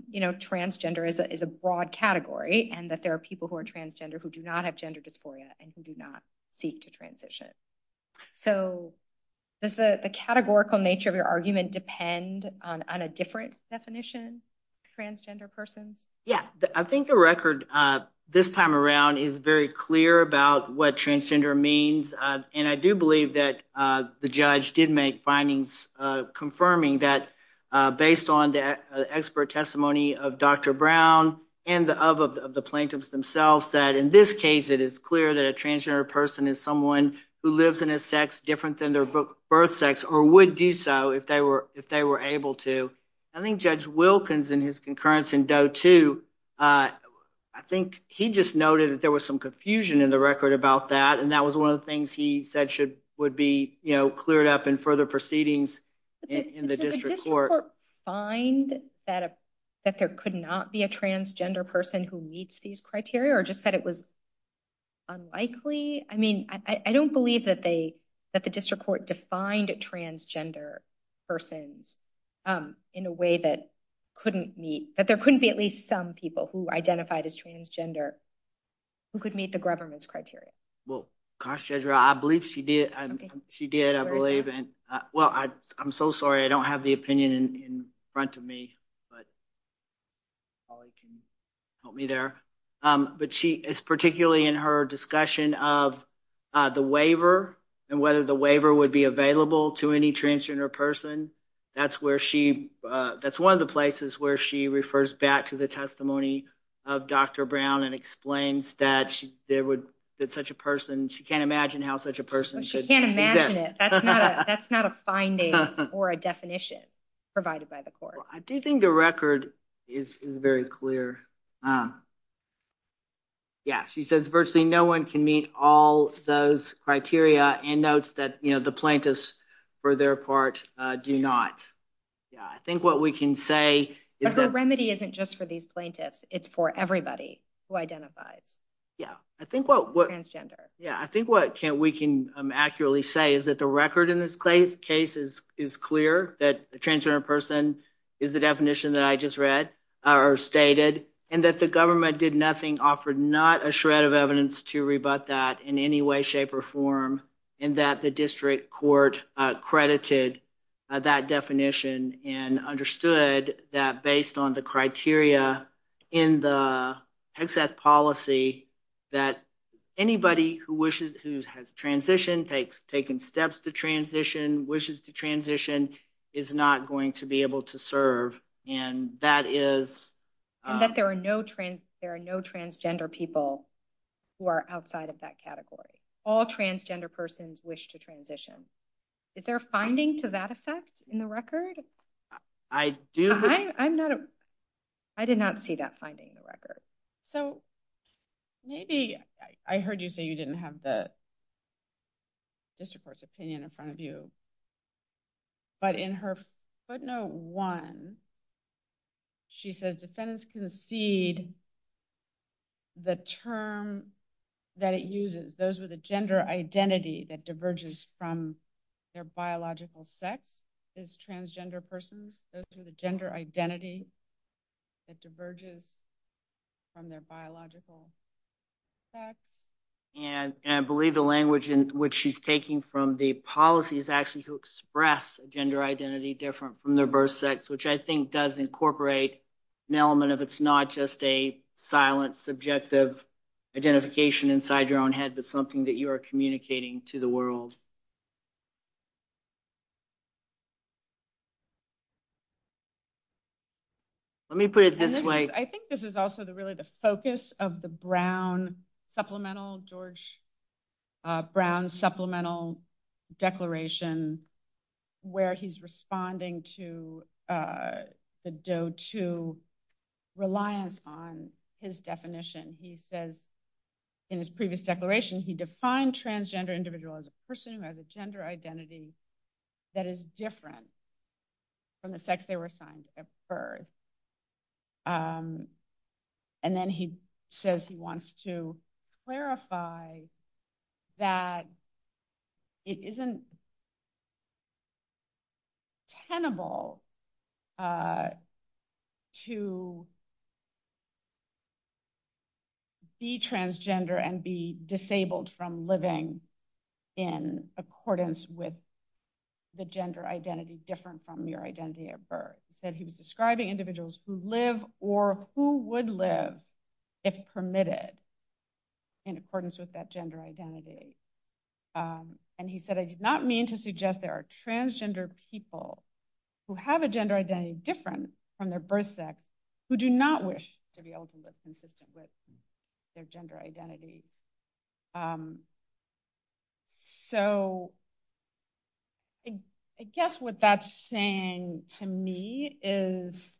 you know, transgender is a broad category and that there are people who are transgender who do not have gender dysphoria and who do not seek to transition. So does the categorical nature of your argument depend on a different definition, transgender person? Yeah. I think the record this time around is very clear about what transgender means. And I do believe that the judge did make findings confirming that based on the expert testimony of Dr. Brown and of the plaintiffs themselves, that in this case it is clear that a transgender person is someone who lives in a sex different than their birth sex or would do so if they were able to. I think Judge Wilkins in his concurrence in Doe 2, I think he just noted that there was some confusion in the record about that. And that was one of the things he said would be, you know, cleared up in further proceedings in the district court. Did the district court find that there could not be a transgender person who meets these criteria or just that it was unlikely? I mean, I don't believe that the district court defined a transgender person in a way that couldn't meet, that there couldn't be at least some people who identified as transgender who could meet the government's criteria. Well, gosh, Deidre, I believe she did. She did, I believe. Well, I'm so sorry. I don't have the opinion in front of me, but Holly can help me there. But she, particularly in her discussion of the waiver and whether the waiver would be available to any transgender person, that's where she, that's one of the places where she refers back to the testimony of Dr. Brown and explains that there would, that such a person, she can't imagine how such a person should. She can't imagine it. That's not a finding or a definition provided by the court. I do think the record is very clear. Yeah, she says virtually no one can meet all those criteria and notes that, you know, the plaintiffs for their part do not. Yeah, I think what we can say is that... But the remedy isn't just for these plaintiffs. It's for everybody who identifies as transgender. Yeah, I think what we can accurately say is that the record in this case is clear, that the transgender person is the definition that I just read or stated, and that the government did nothing, offered not a shred of evidence to rebut that in any way, shape, or form, and that the district court credited that definition and understood that based on the criteria in the excess policy that anybody who has transitioned, taken steps to transition, wishes to transition, is not going to be able to serve. And that is... And that there are no transgender people who are outside of that category. All transgender persons wish to transition. Is there a finding to that effect in the record? I do... I'm not a... I did not see that finding in the record. So maybe... I heard you say you didn't have the district court's opinion in front of you. But in her footnote one, she says, Defendants concede the term that it uses, those with a gender identity that diverges from their biological sex, is transgender person. And I believe the language in which she's taking from the policy is actually to express gender identity different from their birth sex, which I think does incorporate an element of it's not just a silent, subjective identification inside your own head, but something that you are communicating to the world. Let me put it this way. I think this is also really the focus of the Brown Supplemental, George Brown Supplemental Declaration, where he's responding to the Doe II reliance on his definition. He says in his previous declaration, he defined transgender individual as a person who has a gender identity that is different from the sex they were assigned at birth. And then he says he wants to clarify that it isn't tenable to be transgender and be disabled from living in accordance with the gender identity different from your identity at birth. He said he was describing individuals who live or who would live if permitted in accordance with that gender identity. And he said, I did not mean to suggest there are transgender people who have a gender identity different from their birth sex, who do not wish to be able to live consistent with their gender identity. So I guess what that's saying to me is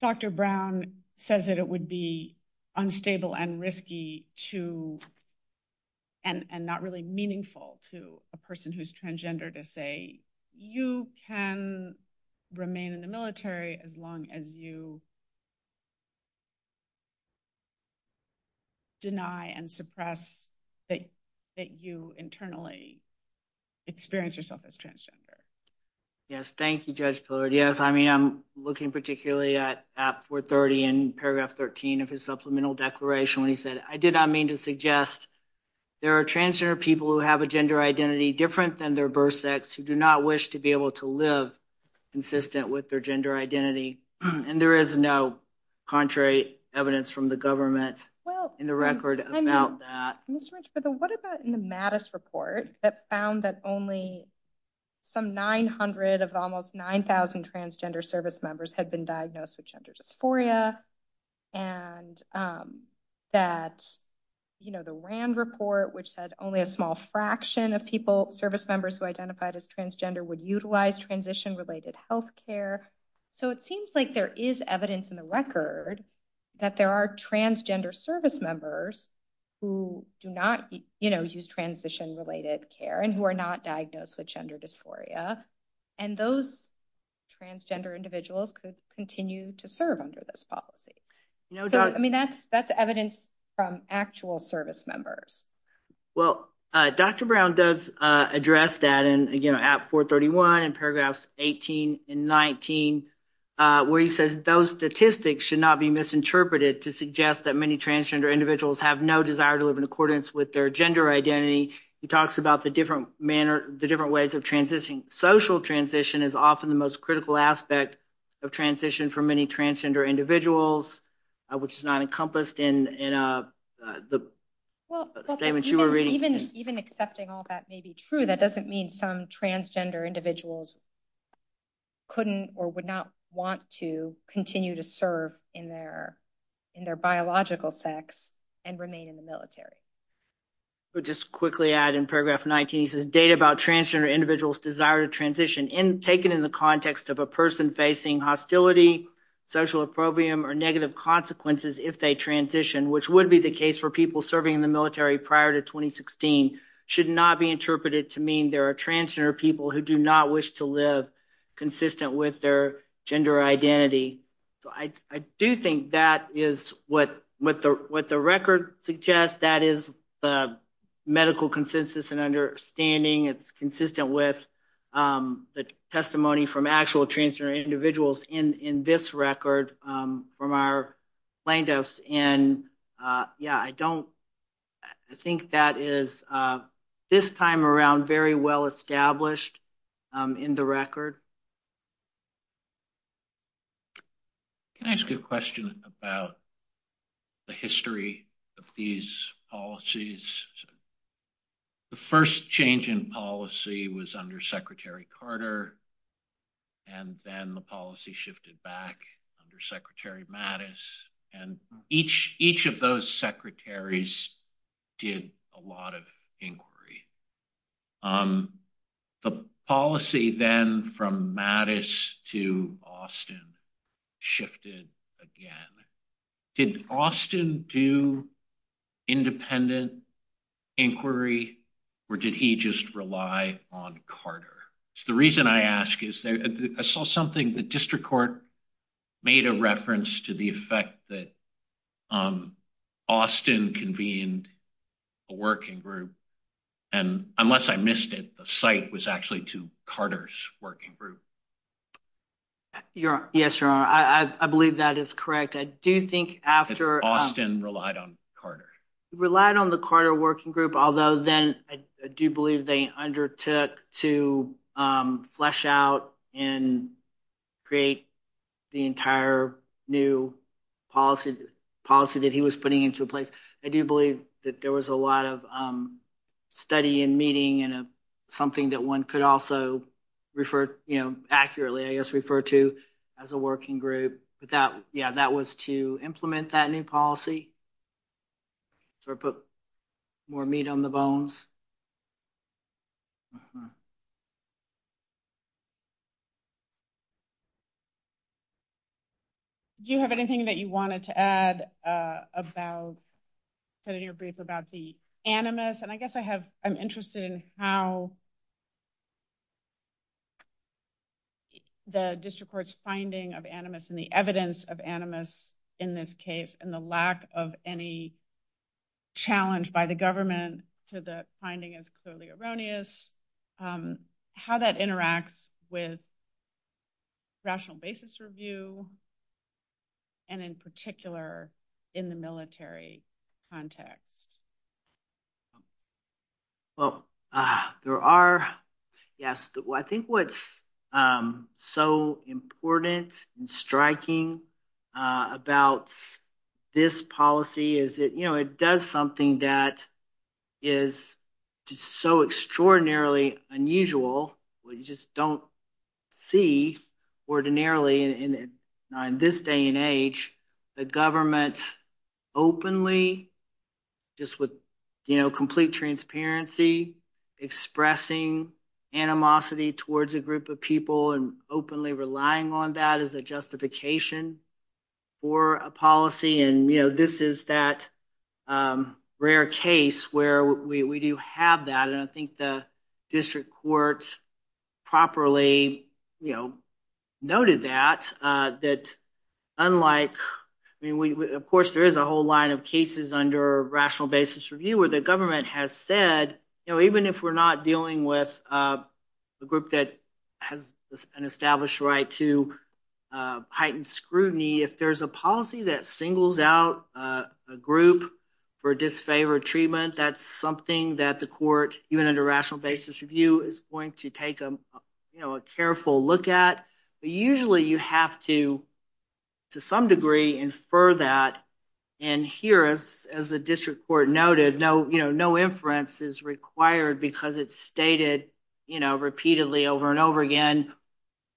Dr. Brown says that it would be unstable and risky to, and not really meaningful to a person who's transgender to say, you can remain in the military as long as you deny and suppress that you internally experience yourself as transgender. Yes, thank you, Judge Pillard. Yes, I mean, I'm looking particularly at 430 and paragraph 13 of his supplemental declaration where he said, I did not mean to suggest there are transgender people who have a gender identity different than their birth sex, who do not wish to be able to live consistent with their gender identity. And there is no contrary evidence from the government in the record about that. What about in the Mattis report that found that only some 900 of almost 9,000 transgender service members had been diagnosed with gender dysphoria? And that, you know, the Rand report, which said only a small fraction of people, service members who identified as transgender would utilize transition related health care. So it seems like there is evidence in the record that there are transgender service members who do not, you know, use transition related care and who are not diagnosed with gender dysphoria. And those transgender individuals continue to serve under this policy. I mean, that's evidence from actual service members. Well, Dr. Brown does address that and, you know, at 431 and paragraphs 18 and 19, where he says those statistics should not be misinterpreted to suggest that many transgender individuals have no desire to live in accordance with their gender identity. He talks about the different manner, the different ways of transitioning. Social transition is often the most critical aspect of transition for many transgender individuals, which is not encompassed in the. Well, even accepting all that may be true. That doesn't mean some transgender individuals couldn't or would not want to continue to serve in their in their biological sex and remain in the military. But just quickly add in paragraph 19, the data about transgender individuals desire to transition in taken in the context of a person facing hostility, social opprobrium, or negative consequences. If they transition, which would be the case for people serving in the military prior to 2016, should not be interpreted to mean there are transgender people who do not wish to live consistent with their gender identity. I do think that is what the record suggests. That is the medical consensus and understanding. It's consistent with the testimony from actual transgender individuals in this record from our plaintiffs. And yeah, I don't think that is this time around very well established in the record. Can I ask a question about the history of these policies? The first change in policy was under Secretary Carter. And then the policy shifted back under Secretary Mattis. And each each of those secretaries did a lot of inquiry. The policy then from Mattis to Austin shifted again. Did Austin do independent inquiry or did he just rely on Carter? The reason I ask is I saw something the district court made a reference to the effect that Austin convened a working group. And unless I missed it, the site was actually to Carter's working group. Yes, your honor. I believe that is correct. I do think after... Austin relied on Carter. He relied on the Carter working group, although then I do believe they undertook to flesh out and create the entire new policy that he was putting into place. I do believe that there was a lot of study and meeting and something that one could also refer, you know, accurately, I guess, refer to as a working group. But that, yeah, that was to implement that new policy or put more meat on the bones. Do you have anything that you wanted to add about your brief about the animus? Yes, and I guess I have... I'm interested in how the district court's finding of animus and the evidence of animus in this case and the lack of any challenge by the government to the finding is totally erroneous. How that interacts with rational basis review and in particular in the military context. Well, there are... Yes, I think what's so important and striking about this policy is that, you know, it does something that is so extraordinarily unusual. We just don't see ordinarily in this day and age the government openly just with, you know, complete transparency, expressing animosity towards a group of people and openly relying on that as a justification for a policy. And, you know, this is that rare case where we do have that. And I think the district court properly, you know, noted that, that unlike... I mean, of course, there is a whole line of cases under rational basis review where the government has said, you know, even if we're not dealing with a group that has an established right to heightened scrutiny, if there's a policy that singles out a group for disfavored treatment, that's something that the court, even under rational basis review, is going to take, you know, a careful look at. But usually you have to, to some degree, infer that. And here, as the district court noted, no, you know, no inference is required because it's stated, you know, repeatedly over and over again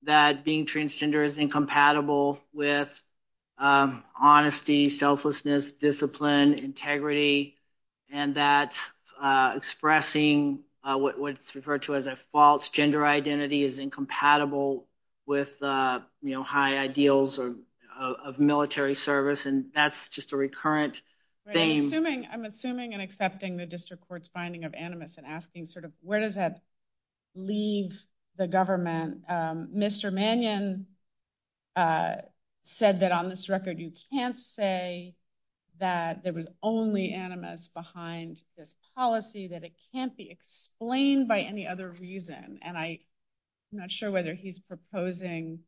that being transgender is incompatible with honesty, selflessness, discipline, integrity. And that expressing what's referred to as a false gender identity is incompatible with, you know, high ideals of military service. And that's just a recurrent thing. I'm assuming and accepting the district court's finding of animus and asking sort of where does that leave the government? And Mr. Mannion said that on this record you can't say that there was only animus behind this policy, that it can't be explained by any other reason. And I'm not sure whether he's proposing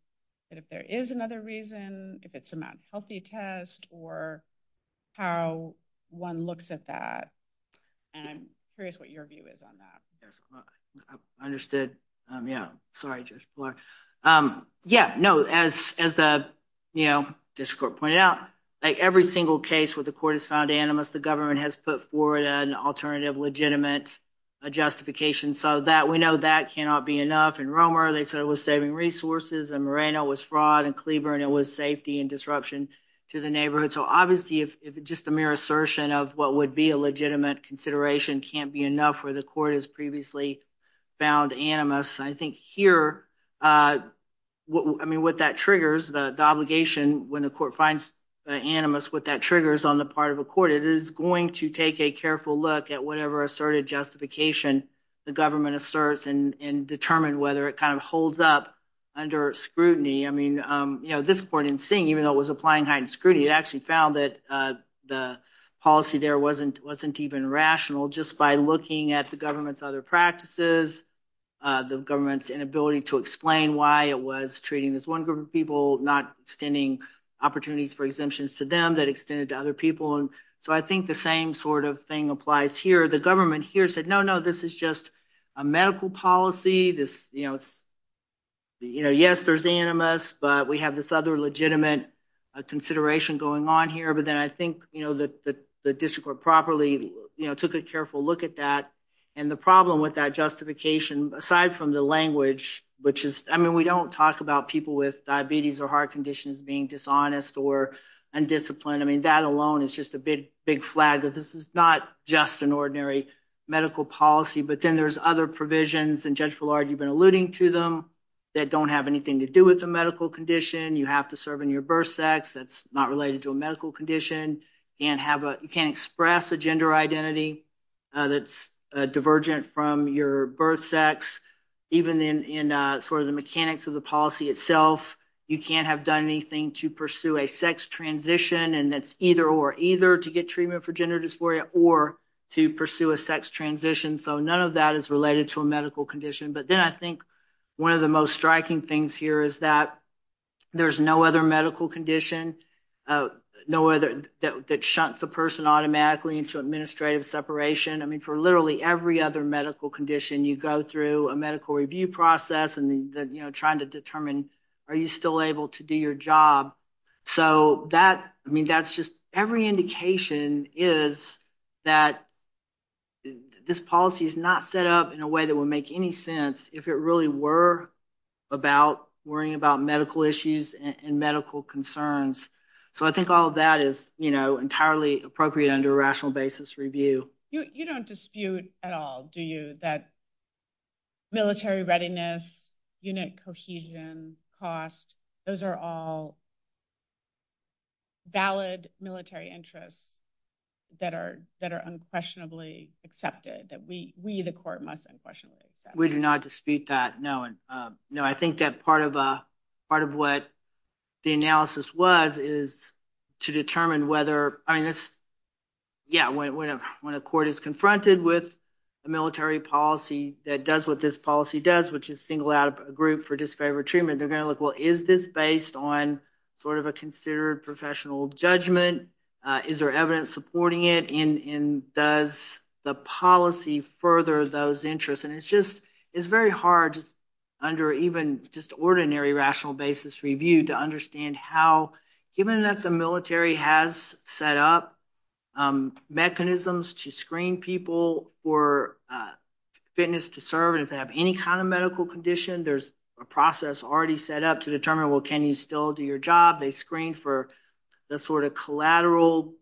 that if there is another reason, if it's a not healthy test, or how one looks at that. And I'm curious what your view is on that. I understood. Yeah, sorry, Judge Block. Yeah, no, as the, you know, district court pointed out, every single case where the court has found animus, the government has put forward an alternative legitimate justification so that we know that cannot be enough. In Romer, they said it was saving resources. In Moreno, it was fraud. In Cleaver, it was safety and disruption to the neighborhood. So, obviously, if just a mere assertion of what would be a legitimate consideration can't be enough where the court has previously found animus, I think here, I mean, what that triggers, the obligation when the court finds animus, what that triggers on the part of the court, it is going to take a careful look at whatever asserted justification the government asserts and determine whether it kind of holds up under scrutiny. I mean, you know, at this point in seeing, even though it was applying heightened scrutiny, it actually found that the policy there wasn't even rational just by looking at the government's other practices, the government's inability to explain why it was treating this one group of people, not extending opportunities for exemptions to them that extended to other people. And so I think the same sort of thing applies here. The government here said, no, no, this is just a medical policy. This, you know, yes, there's animus, but we have this other legitimate consideration going on here. But then I think, you know, the district court properly, you know, took a careful look at that. And the problem with that justification, aside from the language, which is, I mean, we don't talk about people with diabetes or heart conditions being dishonest or undisciplined. I mean, that alone is just a big, big flag that this is not just an ordinary medical policy. But then there's other provisions, and Judge Fulard, you've been alluding to them, that don't have anything to do with the medical condition. You have to serve in your birth sex. That's not related to a medical condition. And you can't express a gender identity that's divergent from your birth sex. Even in sort of the mechanics of the policy itself, you can't have done anything to pursue a sex transition. And that's either or, either to get treatment for gender dysphoria or to pursue a sex transition. So none of that is related to a medical condition. But then I think one of the most striking things here is that there's no other medical condition that shunts the person automatically into administrative separation. I mean, for literally every other medical condition, you go through a medical review process and, you know, trying to determine, are you still able to do your job? So that, I mean, that's just every indication is that this policy is not set up in a way that would make any sense if it really were about worrying about medical issues and medical concerns. So I think all of that is, you know, entirely appropriate under a rational basis review. You don't dispute at all, do you, that military readiness, unit cohesion, cost, those are all valid military interests that are unquestionably accepted, that we, the court, must unquestionably accept. We do not dispute that, no. I think that part of what the analysis was is to determine whether, yeah, when a court is confronted with a military policy that does what this policy does, which is single out a group for dysphoria treatment, they're going to look, well, is this based on sort of a considered professional judgment? Is there evidence supporting it? And does the policy further those interests? And it's just, it's very hard under even just ordinary rational basis review to understand how, even if the military has set up mechanisms to screen people for fitness to serve and to have any kind of medical condition, there's a process already set up to determine, well, can you still do your job? They screen for the sort of collateral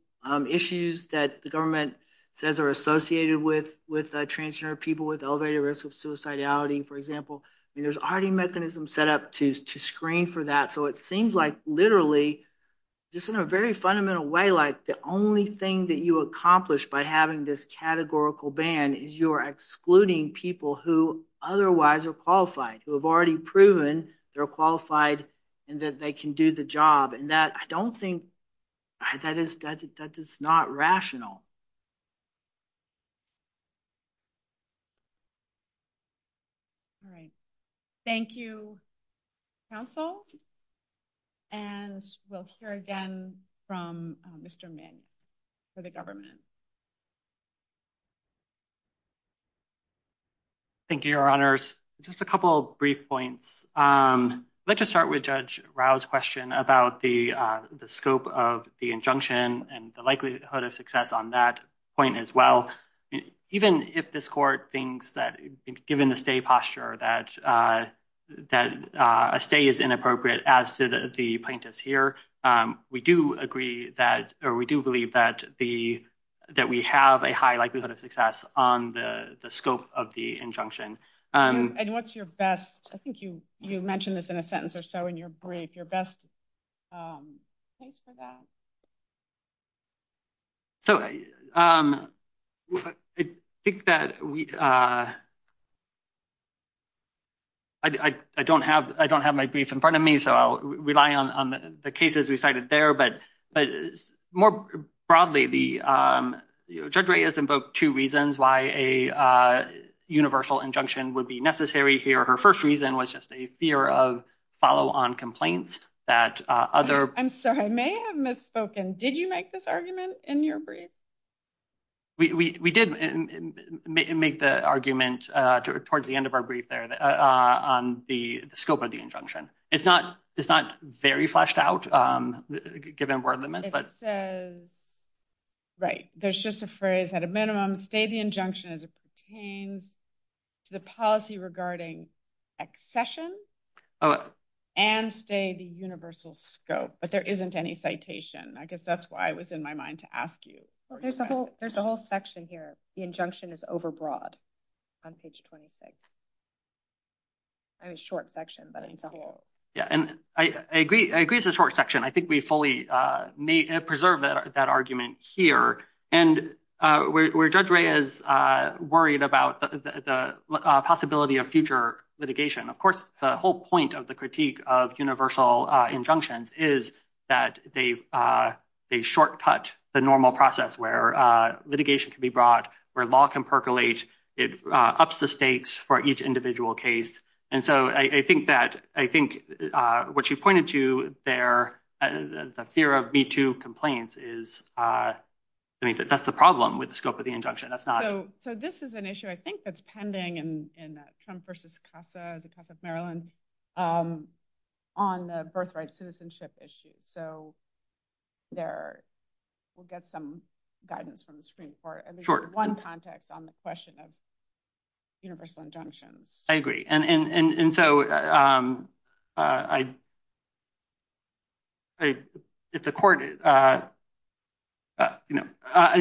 issues that the government says are associated with transgender people with elevated risk of suicidality, for example. I mean, there's already mechanisms set up to screen for that. So it seems like literally, just in a very fundamental way, like the only thing that you accomplish by having this categorical ban is you are excluding people who otherwise are qualified, who have already proven they're qualified and that they can do the job. And that, I don't think, that is not rational. All right. Thank you, counsel. And we'll hear again from Mr. Min for the government. Thank you, Your Honors. Just a couple of brief points. Let's just start with Judge Rao's question about the scope of the injunction and the likelihood of success on that point as well. Even if this court thinks that, given the stay posture, that a stay is inappropriate as the plaintiff's here, we do agree that, or we do believe that we have a high likelihood of success on the scope of the injunction. And what's your best, I think you mentioned this in a sentence or so in your brief, your best take for that? So I don't have my brief in front of me, so I'll rely on the cases we cited there. But more broadly, Judge Rao has invoked two reasons why a universal injunction would be necessary here. Her first reason was just a fear of follow-on complaints that other— I'm sorry, I may have misspoken. Did you make this argument in your brief? We did make the argument towards the end of our brief there on the scope of the injunction. It's not very fleshed out, given where the— It says, right, there's just a phrase, at a minimum, stay the injunction as it pertains to the policy regarding accession and stay the universal scope. But there isn't any citation. I guess that's why it was in my mind to ask you. There's a whole section here. The injunction is overbroad on page 26. It's a short section, but I think the whole— Yeah, and I agree. I agree it's a short section. I think we fully preserve that argument here. And where Judge Rao is worried about the possibility of future litigation. Of course, the whole point of the critique of universal injunctions is that they shortcut the normal process where litigation can be brought, where law can percolate. It ups the stakes for each individual case. And so I think that—I think what you pointed to there, the fear of B-2 complaints, that's the problem with the scope of the injunction. That's not— On the birthright citizenship issue. So we'll get some guidance from the Supreme Court. Sure. One context on the question of universal injunctions. I agree. And so if the court—and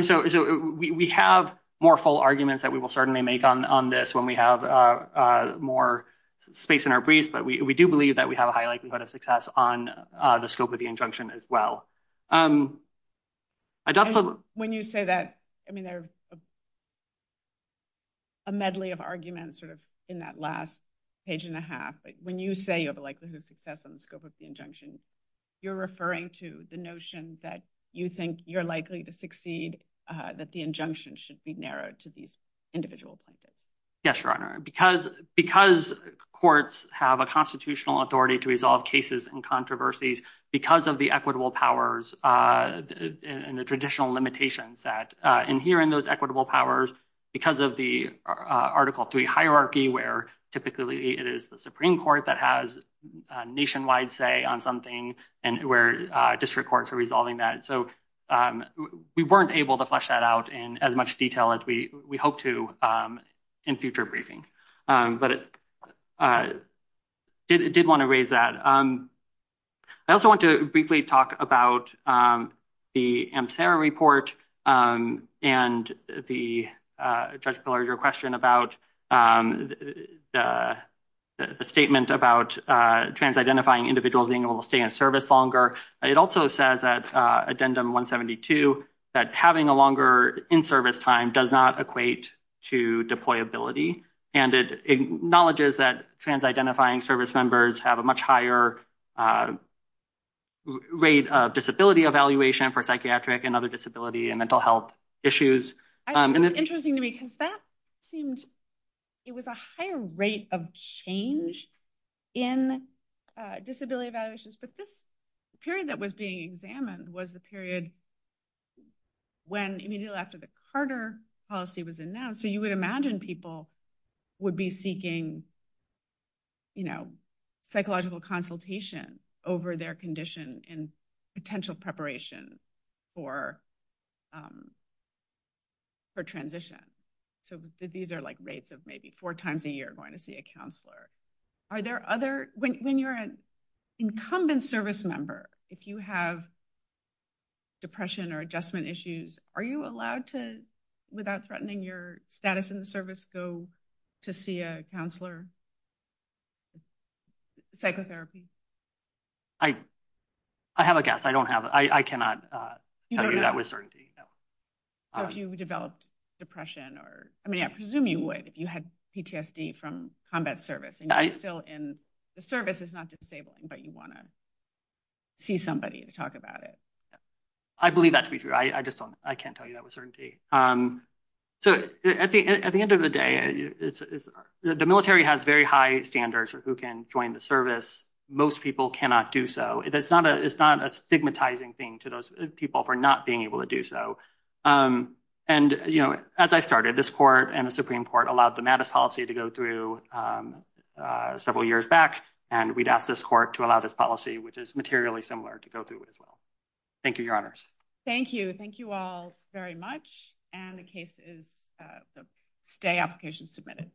so we have more full arguments that we will certainly make on this when we have more space in our briefs, but we do believe that we have a high likelihood of success on the scope of the injunction as well. When you say that—I mean, there's a medley of arguments sort of in that last page and a half. But when you say you have a likelihood of success on the scope of the injunction, you're referring to the notion that you think you're likely to succeed, that the injunction should be narrowed to these individual points. Yes, Your Honor. Because courts have a constitutional authority to resolve cases and controversies, because of the equitable powers and the traditional limitations that adhere in those equitable powers, because of the Article III hierarchy where typically it is the Supreme Court that has a nationwide say on something and where district courts are resolving that. So we weren't able to flesh that out in as much detail as we hope to in future briefings, but I did want to raise that. I also want to briefly talk about the Amterra report and, Judge Pillar, your question about the statement about trans-identifying individuals being able to stay in service longer. It also says at Addendum 172 that having a longer in-service time does not equate to deployability. And it acknowledges that trans-identifying service members have a much higher rate of disability evaluation for psychiatric and other disability and mental health issues. I think it's interesting to me, because it was a higher rate of change in disability evaluations, but this period that was being examined was the period immediately after the Carter policy was announced. So you would imagine people would be seeking psychological consultation over their condition in potential preparation for transition. So these are like rates of maybe four times a year going to see a counselor. Are there other – when you're an incumbent service member, if you have depression or adjustment issues, are you allowed to, without threatening your status in the service, go to see a counselor? Psychotherapy? I have a guess. I don't have – I cannot tell you that with certainty. So if you've developed depression or – I mean, I presume you would if you had PTSD from combat service, and you're still in – the service is not disabling, but you want to see somebody to talk about it. I believe that to be true. I just don't – I can't tell you that with certainty. So at the end of the day, the military has very high standards for who can join the service. Most people cannot do so. It's not a stigmatizing thing to those people for not being able to do so. And as I started, this court and the Supreme Court allowed the MADIS policy to go through several years back, and we'd ask this court to allow this policy, which is materially similar, to go through it as well. Thank you, Your Honors. Thank you. Thank you all very much, and the case is – the application is submitted.